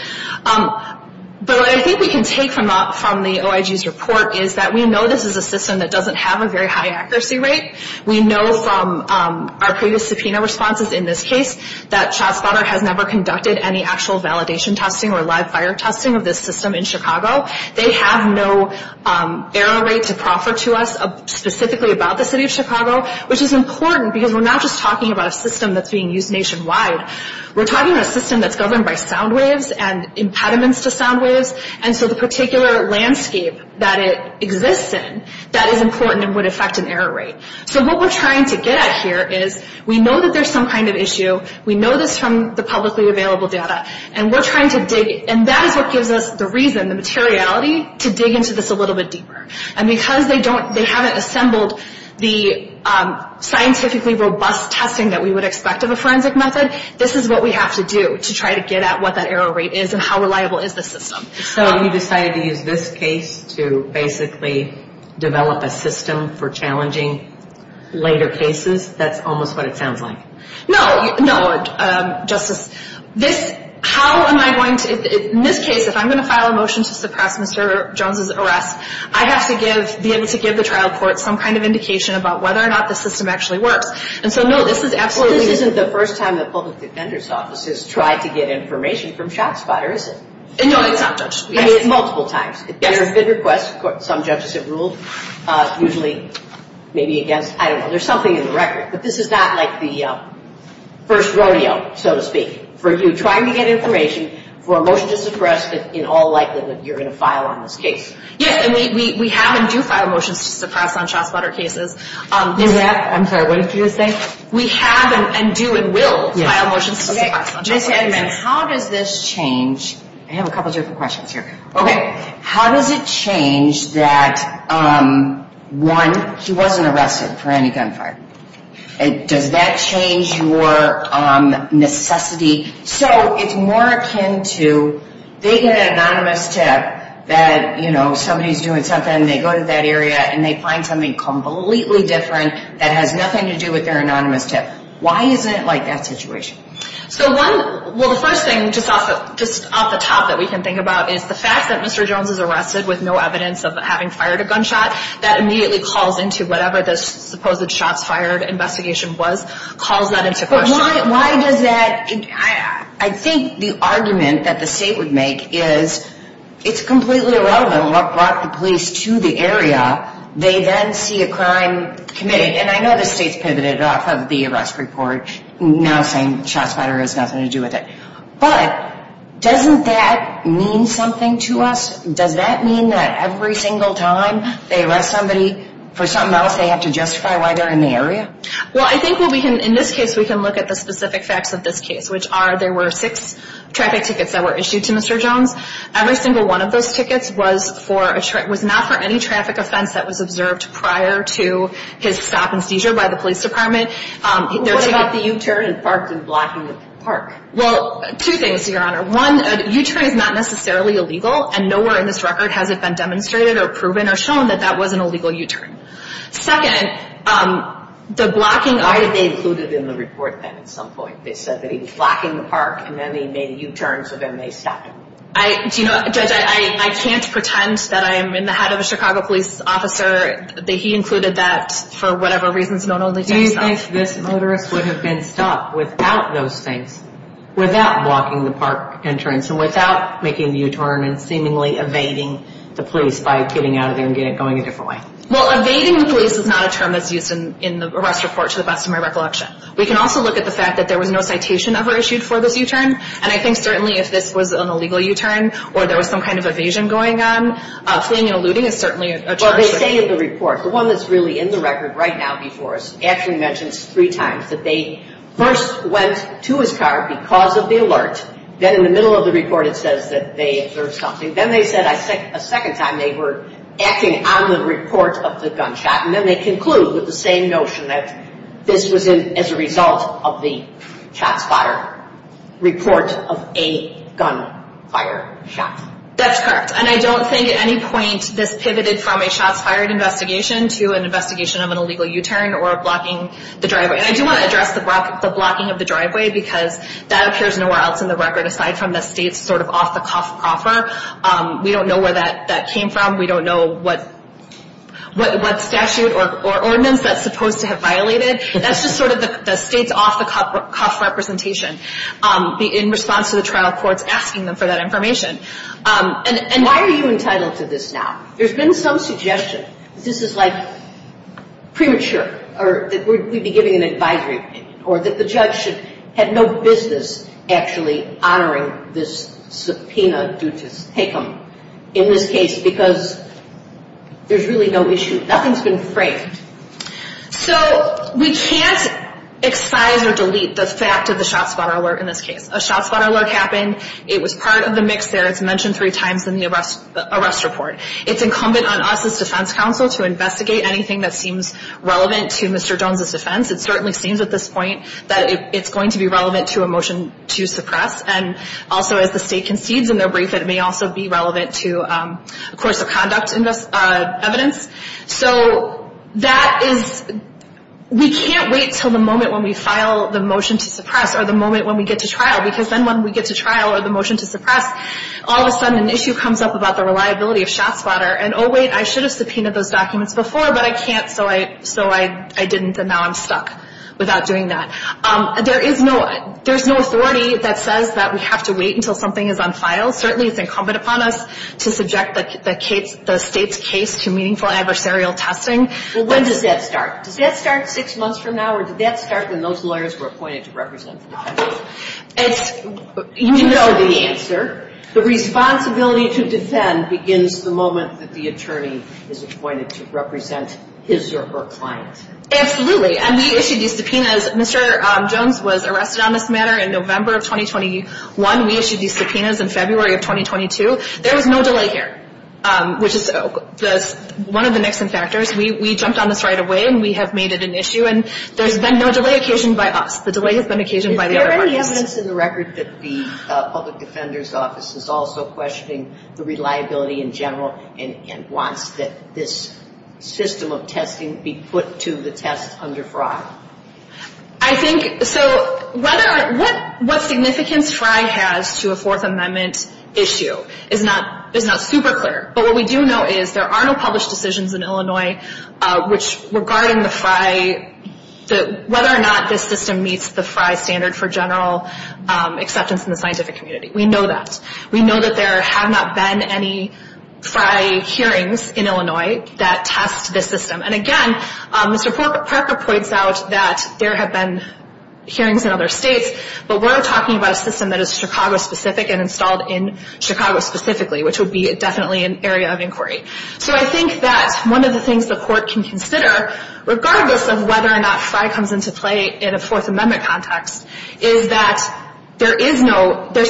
But what I think we can take from the OIG's report is that we know this is a system that doesn't have a very high accuracy rate. We know from our previous subpoena responses in this case that Shots Fired has never conducted any actual validation testing or live fire testing of this system in Chicago. They have no error rate to proffer to us specifically about the city of Chicago, which is important because we're not just talking about a system that's being used nationwide. We're talking about a system that's governed by sound waves and impediments to sound waves, and so the particular landscape that it exists in, that is important and would affect an error rate. So what we're trying to get at here is we know that there's some kind of issue. We know this from the publicly available data, and we're trying to dig, and that is what gives us the reason, the materiality, to dig into this a little bit deeper. And because they haven't assembled the scientifically robust testing that we would expect of a forensic method, this is what we have to do to try to get at what that error rate is and how reliable is this system. So you decided to use this case to basically develop a system for challenging later cases? That's almost what it sounds like. No, no, Justice. This, how am I going to, in this case, if I'm going to file a motion to suppress Mr. Jones's arrest, I have to be able to give the trial court some kind of indication about whether or not the system actually works. And so no, this is absolutely... This isn't the first time that public defender's offices try to get information from Shots Fired, is it? No, no, Justice. Multiple times. There have been requests. Some judges have ruled, usually, maybe against, I don't know. There's something in the record. But this is not like the first rodeo, so to speak, where you're trying to get information for a motion to suppress in all likelihood that you're going to file on this case. Yes, and we have and do file motions to suppress on Shots Fired cases. I'm sorry, what did you say? We have and do and will file motions to suppress on Shots Fired cases. Justice Edmunds, how did this change? I have a couple of different questions here. Okay. How does it change that, one, she wasn't arrested for any gun fire? And does that change your necessity? So it's more akin to they get an anonymous tip that, you know, somebody's doing something, and they go to that area and they find something completely different that has nothing to do with their anonymous tip. Why isn't it like that situation? Well, the first thing, just off the top that we can think about, is the fact that Mr. Jones was arrested with no evidence of having fired a gunshot, that immediately calls into whatever this supposed Shots Fired investigation was, calls that into question. Why does that? I think the argument that the state would make is it's completely irrelevant what brought the police to the area. They then see a crime committed. And I know the state's pivoted off of the arrest report, now saying Shots Fired has nothing to do with it. But doesn't that mean something to us? Does that mean that every single time they arrest somebody for something else, they have to justify why they're in the area? Well, I think in this case we can look at the specific facts of this case, which are there were six traffic tickets that were issued to Mr. Jones. Every single one of those tickets was not for any traffic offense that was observed prior to his stop and seizure by the police department. What about the U-turn and parking blocking the park? Well, two things, Your Honor. One, a U-turn is not necessarily illegal, and nowhere in this record has it been demonstrated or proven or shown that that was an illegal U-turn. Second, the blocking... Why did they include it in the report at some point? It says that he was blocking the park, and then he made a U-turn, so then they stopped him. I can't pretend that I'm in the head of a Chicago police officer, that he included that for whatever reason. Do you think this motorist would have been stopped without those things, without blocking the park entrance, and without making a U-turn and seemingly evading the police by getting out of there and going a different way? Well, evading the police is not a term that's used in the arrest report, to the best of my recollection. We can also look at the fact that there was no citation ever issued for this U-turn, and I think certainly if this was an illegal U-turn or there was some kind of evasion going on, fleeing and eluding is certainly a charge. Well, they say in the report, the one that's really in the record right now before us, actually mentions three times that they first went to his car because of the alert, then in the middle of the report it says that they observed something, then they said a second time they were acting on the report of the gunshot, and then they conclude with the same notion that this was as a result of the shot-fire report of a gunfire shot. That's correct, and I don't think at any point this pivoted from a shot-fire investigation to an investigation of an illegal U-turn or blocking the driveway. I do want to address the blocking of the driveway because that appears nowhere else in the record, aside from the state's sort of off-the-cuff offer. We don't know where that came from. We don't know what statute or ordinance that's supposed to have violated. That's just sort of the state's off-the-cuff representation in response to the trial court asking them for that information. And why are you entitled to this now? There's been some suggestion that this is, like, premature or that we'd be giving an advisory meeting or that the judge should have no business actually honoring this subpoena due to take-home in this case because there's really no issue. Nothing's been framed. So we can't assign or delete the fact of the shot-fire alert in this case. A shot-fire alert happened. It was part of the mix there. It's mentioned three times in the arrest report. It's incumbent on us as defense counsel to investigate anything that seems relevant to Mr. Jones' defense. It certainly seems at this point that it's going to be relevant to a motion to suppress, and also as the state concedes in their brief that it may also be relevant to a course of conduct in this evidence. So that is we can't wait until the moment when we file the motion to suppress or the moment when we get to trial because then when we get to trial or the motion to suppress, all of a sudden an issue comes up about the reliability of shot-fire. And, oh, wait, I should have subpoenaed those documents before, but I can't, so I didn't, and now I'm stuck without doing that. There is no authority that says that we have to wait until something is on file. Certainly it's incumbent upon us to subject the state's case to meaningful adversarial testing. Well, when does that start? Does that start six months from now, or does that start when those lawyers who are appointed represent now? You know the answer. The responsibility to defend begins the moment that the attorney is appointed to represent his or her client. Absolutely. And we issued these subpoenas. Mr. Jones was arrested on this matter in November of 2021. We issued these subpoenas in February of 2022. There is no delay here, which is one of the next contractors. We jumped on this right away, and we have made it an issue. And there has been no delay occasioned by us. The delay has been occasioned by the Attorney General. Is there any evidence in the record that the Public Defender's Office is also questioning the reliability in general and wants this system of testing to be put to the test under FRI? I think, so, what significance FRI has to a Fourth Amendment issue is not super clear. But what we do know is there are no published decisions in Illinois regarding the FRI, whether or not this system meets the FRI standard for general acceptance in the scientific community. We know that. We know that there have not been any FRI hearings in Illinois that test this system. And, again, Mr. Parker points out that there have been hearings in other states, but we're talking about a system that is Chicago-specific and installed in Chicago specifically, which would be definitely an area of inquiry. So I think that one of the things the Court can consider, regardless of whether or not FRI comes into play in a Fourth Amendment context, is that there's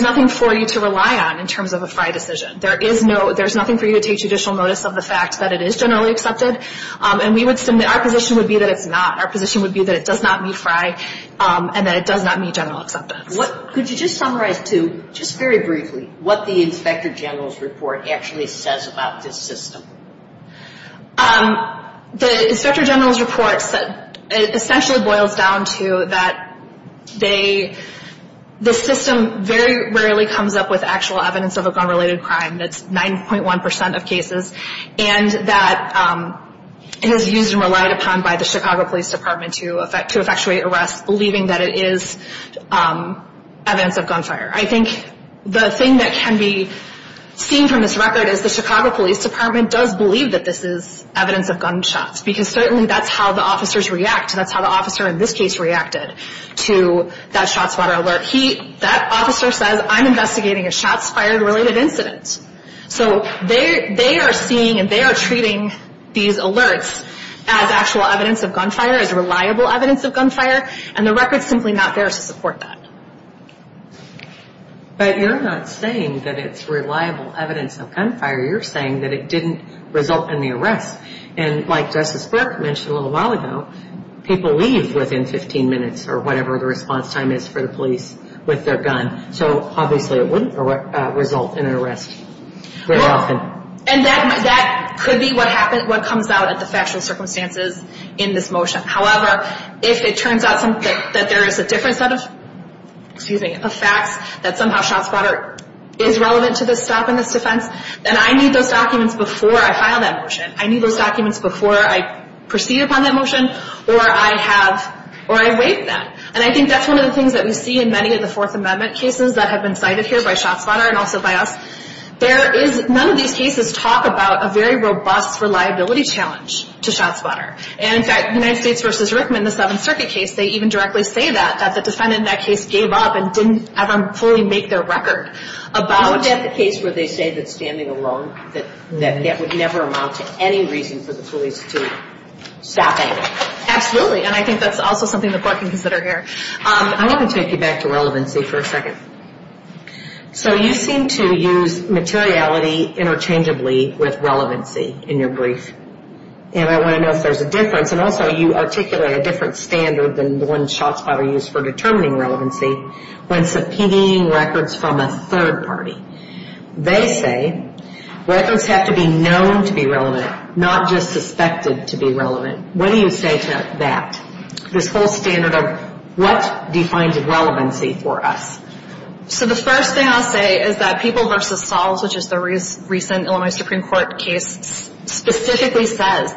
nothing for you to rely on in terms of a FRI decision. There's nothing for you to take judicial notice of the fact that it is generally accepted. And our position would be that it's not. Our position would be that it does not meet FRI and that it does not meet general acceptance. Could you just summarize, too, just very briefly, what the Inspector General's report actually says about this system? The Inspector General's report essentially boils down to that the system very rarely comes up with actual evidence of a gun-related crime. That's 9.1 percent of cases. And that it is used and relied upon by the Chicago Police Department to effectuate arrests, believing that it is evidence of gunfire. I think the thing that can be seen from this record is the Chicago Police Department does believe that this is evidence of gunshots, because certainly that's how the officers react. That's how the officer in this case reacted to that shots fired alert. That officer says, I'm investigating a shots fired-related incident. So they are seeing and they are treating these alerts as actual evidence of gunfire, as reliable evidence of gunfire, and the record is simply not there to support that. But you're not saying that it's reliable evidence of gunfire. You're saying that it didn't result in the arrest. And like Justice Burke mentioned a little while ago, people leave within 15 minutes, or whatever the response time is for the police, with their gun. So obviously it wouldn't result in an arrest very often. No, and that could be what comes out as a factor of circumstances in this motion. However, if it turns out that there is a different set of facts, that somehow shots fired is relevant to this stop and miss defense, then I need those documents before I file that motion. I need those documents before I proceed upon that motion or I erase them. And I think that's one of the things that we see in many of the Fourth Amendment cases that have been cited here by shots fired and also by us. None of these cases talk about a very robust reliability challenge to shots fired. And in fact, United States v. Rickman, the Seventh Circuit case, they even directly say that, that the defendant in that case gave up and didn't ever fully make their record. About that case where they say that standing alone, that would never amount to any reason for the police to stop it. Absolutely, and I think that's also something the court can consider here. I want to take you back to relevancy for a second. So you seem to use materiality interchangeably with relevancy in your brief. And I want to know if there's a difference. And also you articulate a different standard than the one shots fired use for determining relevancy when subpoenaing records from a third party. They say records have to be known to be relevant, not just suspected to be relevant. What do you say to that? This whole standard of what defines relevancy for us? So the first thing I'll say is that People v. Falls, which is the recent Illinois Supreme Court case, specifically says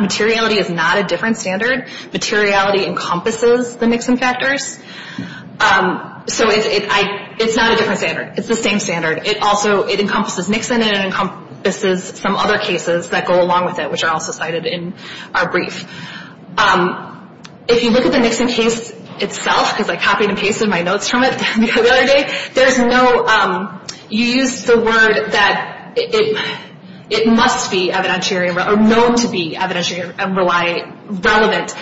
materiality is not a different standard. Materiality encompasses the Nixon factors. So it's not a different standard. It's the same standard. It also encompasses Nixon and it encompasses some other cases that go along with it, which are also cited in our brief. If you look at the Nixon case itself, because I copied a case in my notes from it the other day, you use the word that it must be known to be evidentiary and relevant.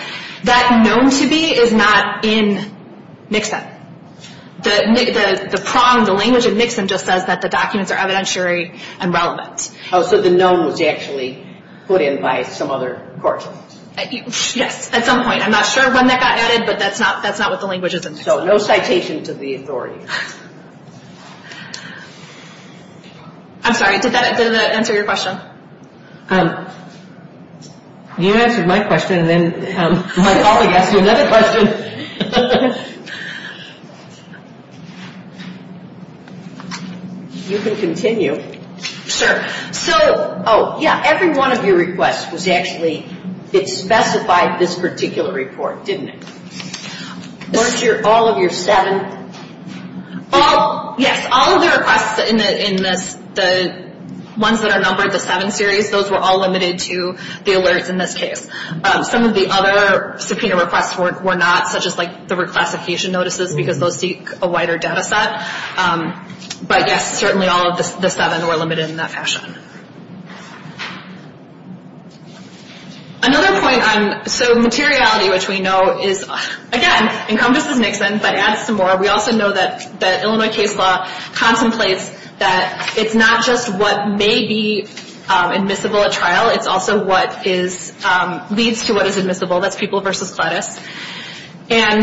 That known to be is not in Nixon. The prong, the language in Nixon just says that the documents are evidentiary and relevant. Oh, so the known was actually put in by some other court. Yes, at some point. I'm not sure when that got added, but that's not what the language is in. So no citations of the authority. I'm sorry, did that answer your question? You answered my question and then my colleague asked you another question. You can continue. Sure. So, oh, yeah, every one of your requests was actually, it specified this particular report, didn't it? Weren't all of your seven? Yes, all of the requests in the ones that are numbered, the seven series, those were all limited to the alerts in this case. Some of the other subpoena requests were not, such as the reclassification notices, because those seek a wider data set. But certainly all of the seven were limited in that fashion. Another point, so materiality, which we know is, again, encompassing Nixon, but adds to more, we also know that Illinois case law contemplates that it's not just what may be admissible at trial, it's also what leads to what is admissible, that's Peoples v. Gladys. And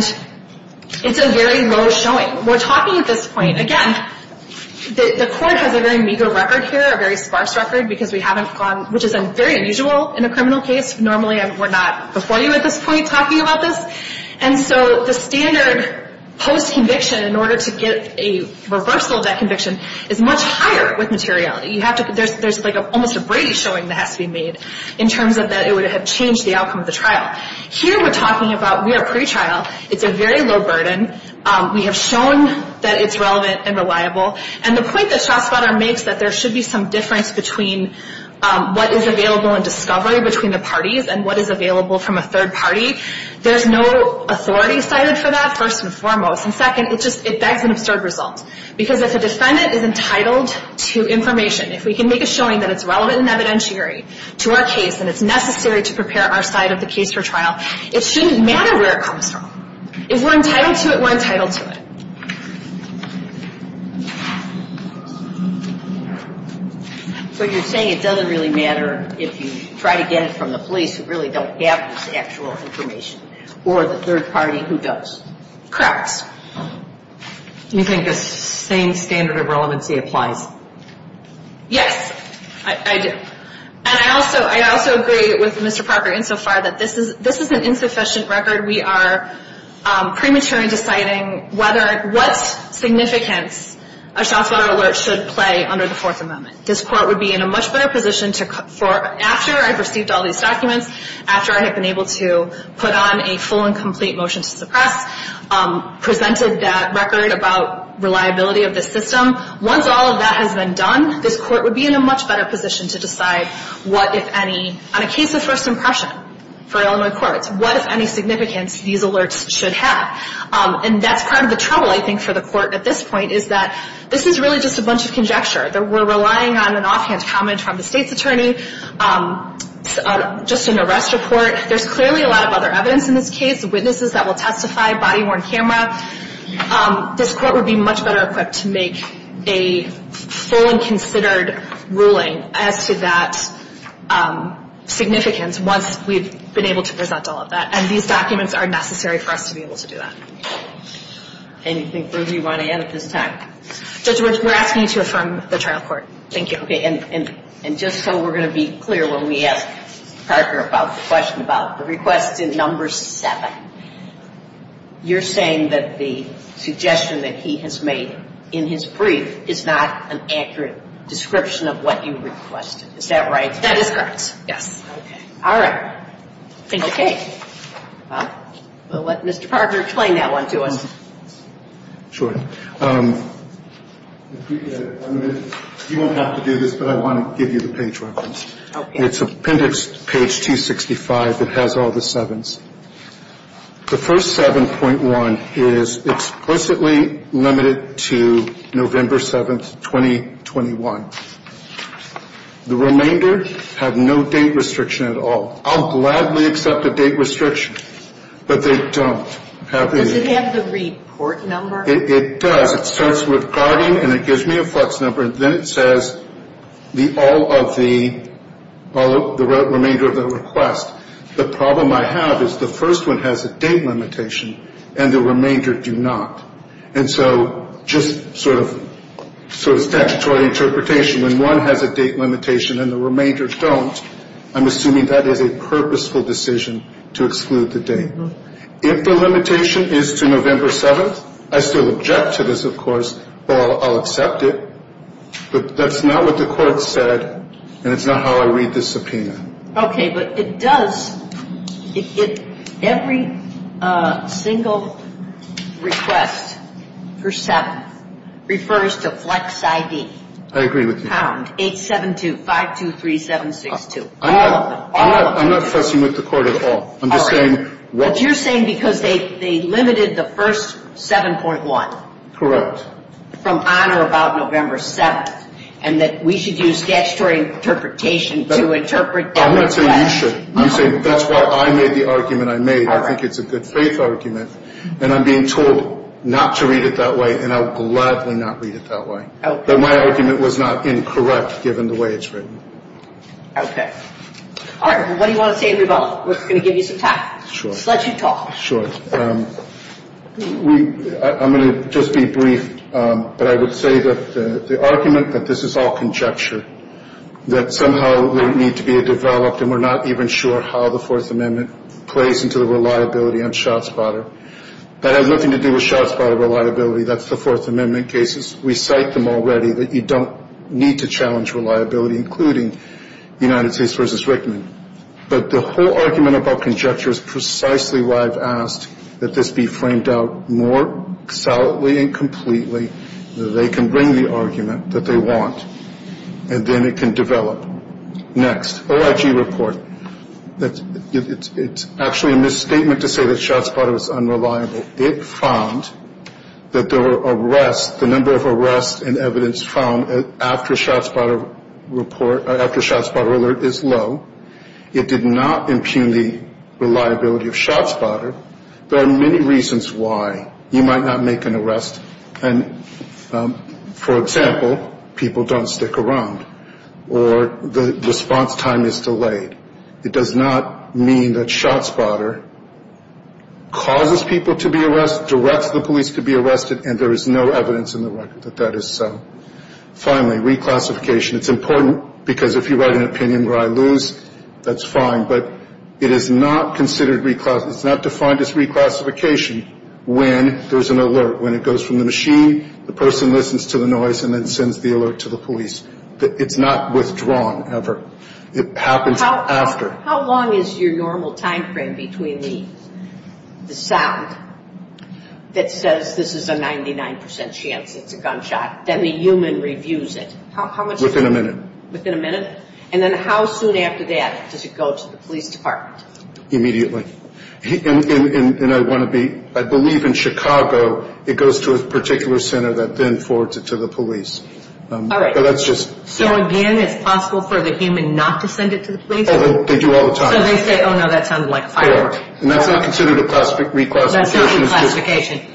it's a very low showing. We're talking at this point, again, the courts have very meager records here, very sparse records, which is very unusual in a criminal case. Normally we're not before you at this point talking about this. And so the standard post-conviction, in order to get a reversal of that conviction, is much higher with materiality. There's almost a Brady showing that has to be made in terms of that it would have changed the outcome of the trial. Here we're talking about we are pre-trial. It's a very low burden. We have shown that it's relevant and reliable. And the point that Schott's letter makes, that there should be some difference between what is available in discovery between the parties and what is available from a third party, there's no authority cited for that, first and foremost. And, second, it bags in absurd results. Because if a defendant is entitled to information, if we can make a showing that it's relevant and evidentiary to our case and it's necessary to prepare our side of the case for trial, it shouldn't matter where it comes from. If we're entitled to it, we're entitled to it. So you're saying it doesn't really matter if you try to get it from the police, who really does have this actual information, or the third party who does. Correct. You think the same standard of relevancy applies? Yes, I do. And I also agree with Mr. Parker insofar that this is an insufficient record. We are premature in deciding what significance a Schott's letter should play under the Fourth Amendment. This court would be in a much better position after I've received all these documents, after I've been able to put on a full and complete motion to the press, presented that record about reliability of the system. Once all of that has been done, this court would be in a much better position to decide what, if any, on a case of first impression for Illinois courts, what, if any, significance these alerts should have. And that's kind of the trouble, I think, for the court at this point, is that this is really just a bunch of conjecture. We're relying on an offhand comment from the state's attorney, just an arrest report. There's clearly a lot of other evidence in this case, witnesses that will testify, body-worn cameras. This court would be much better equipped to make a full and considered ruling as to that significance once we've been able to present all of that. And these documents are necessary for us to be able to do that. Anything further you want to add at this time? We're asking you to affirm the trial court. Thank you. And just so we're going to be clear when we ask Parker about the question about the request in Number 7, you're saying that the suggestion that he has made in his brief is not an accurate description of what you requested. Is that right? That is correct, yes. Okay. All right. Okay. Well, we'll let Mr. Parker explain that one to us. Sure. You won't have to do this, but I want to give you the page reference. Okay. It's appendix page 265. It has all the sevens. The first 7.1 is explicitly limited to November 7, 2021. The remainder have no date restriction at all. I'll gladly accept a date restriction, but they don't. Does it have the report number? It does. It starts with guardian, and it gives me a plus number, and then it says the remainder of the request. The problem I have is the first one has a date limitation, and the remainder do not. And so just sort of textual interpretation, when one has a date limitation and the remainder don't, I'm assuming that is a purposeful decision to exclude the date. If the limitation is to November 7th, I still object to this, of course, but I'll accept it. But that's not what the court said, and it's not how I read this opinion. Okay. But it does. Every single request for 7 refers to flex ID. I agree with you. 872-523-762. All of them. All of them. All right. But you're saying because they limited the first 7.1. Correct. From on or about November 7th, and that we should use statutory interpretation to interpret that. That's why I made the argument I made. I think it's a good faith argument. And I'm being told not to read it that way, and I would gladly not read it that way. But my argument was not incorrect, given the way it's written. Okay. All right. What do you want to say, Andrew Belloc? We're going to give you some time. Sure. Let you talk. Sure. I'm going to just be brief, but I would say that the argument that this is all conjecture, that somehow there needs to be a developed, and we're not even sure how the Fourth Amendment plays into the reliability on shots fired. That had nothing to do with shots fired reliability. That's the Fourth Amendment cases. We cite them already that you don't need to challenge reliability, including United States v. Rickman. But the whole argument about conjecture is precisely why I've asked that this be framed out more solidly and completely so they can bring the argument that they want, and then it can develop. Next. OIG report. It's actually a misstatement to say that shots fired was unreliable. It found that there were arrests, the number of arrests and evidence found after shots fired alert is low. It did not impugn the reliability of shots fired. There are many reasons why you might not make an arrest. For example, people don't stick around, or the response time is delayed. It does not mean that shots fired causes people to be arrested, directs the police to be arrested, and there is no evidence in the record that that is so. Finally, reclassification. It's important because if you write an opinion where I lose, that's fine. But it is not considered reclassification. It's not defined as reclassification when there's an alert. When it goes from the machine, the person listens to the noise and then sends the alert to the police. It's not withdrawn ever. It happens after. How long is your normal time frame between the sound that says this is a 99% chance that you're gunshot, then the human reviews it? Within a minute. Within a minute? And then how soon after that does it go to the police department? Immediately. I believe in Chicago it goes to a particular center that then forwards it to the police. So again, it's possible for the human not to send it to the police? They do all the time. So they say, oh no, that sounds like a firecracker. That's not considered a reclassification. That's not a reclassification.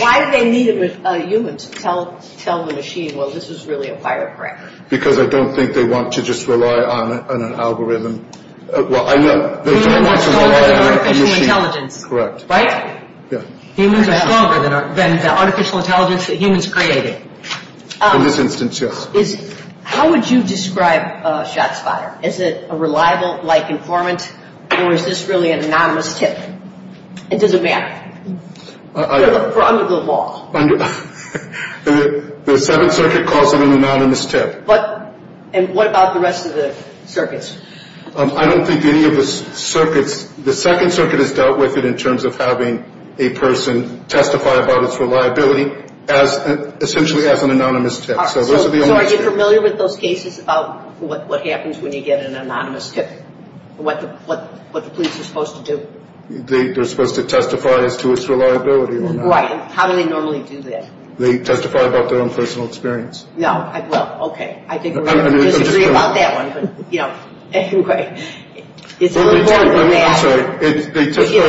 Why do they need a human to tell the machine, well, this is really a firecracker? Because I don't think they want to just rely on an algorithm. Humans are supposed to be intelligent, right? Yeah. Humans are stronger than the artificial intelligence that humans created. How would you describe a shot spotter? Is it a reliable informant, or is this really an anonymous tip? It doesn't matter. The second circuit calls it an anonymous tip. And what about the rest of the circuits? I don't think any of the circuits, the second circuit has dealt with it in terms of having a person testify about its reliability, essentially as an anonymous tip. Are you familiar with those cases about what happens when you get an anonymous tip? What the police are supposed to do? They're supposed to testify as to its reliability. Right. How do they normally do that? They testify about their own personal experience. No. Well, okay. I think we're going to disagree about that one, but, you know, anyway. They testify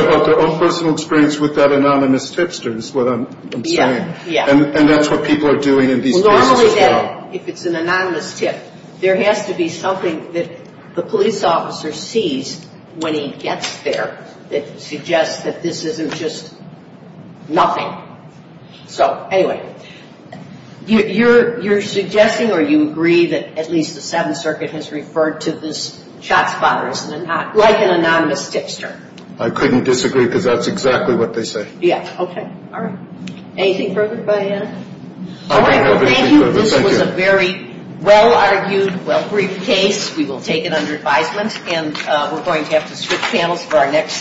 about their own personal experience with that anonymous tip, is what I'm saying. Yeah. And that's what people are doing in these cases. Well, normally, if it's an anonymous tip, there has to be something that the police officer sees when he gets there that suggests that this isn't just nothing. So, anyway, you're suggesting or you agree that at least the seventh circuit has referred to this as an anonymous tip, sir? I couldn't disagree because that's exactly what they say. Yeah. Okay. All right. Anything further to add? All right. Thank you. This was a very well-argued, well-briefed case. We will take it under advisement, and we're going to have to switch panels for our next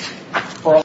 forum.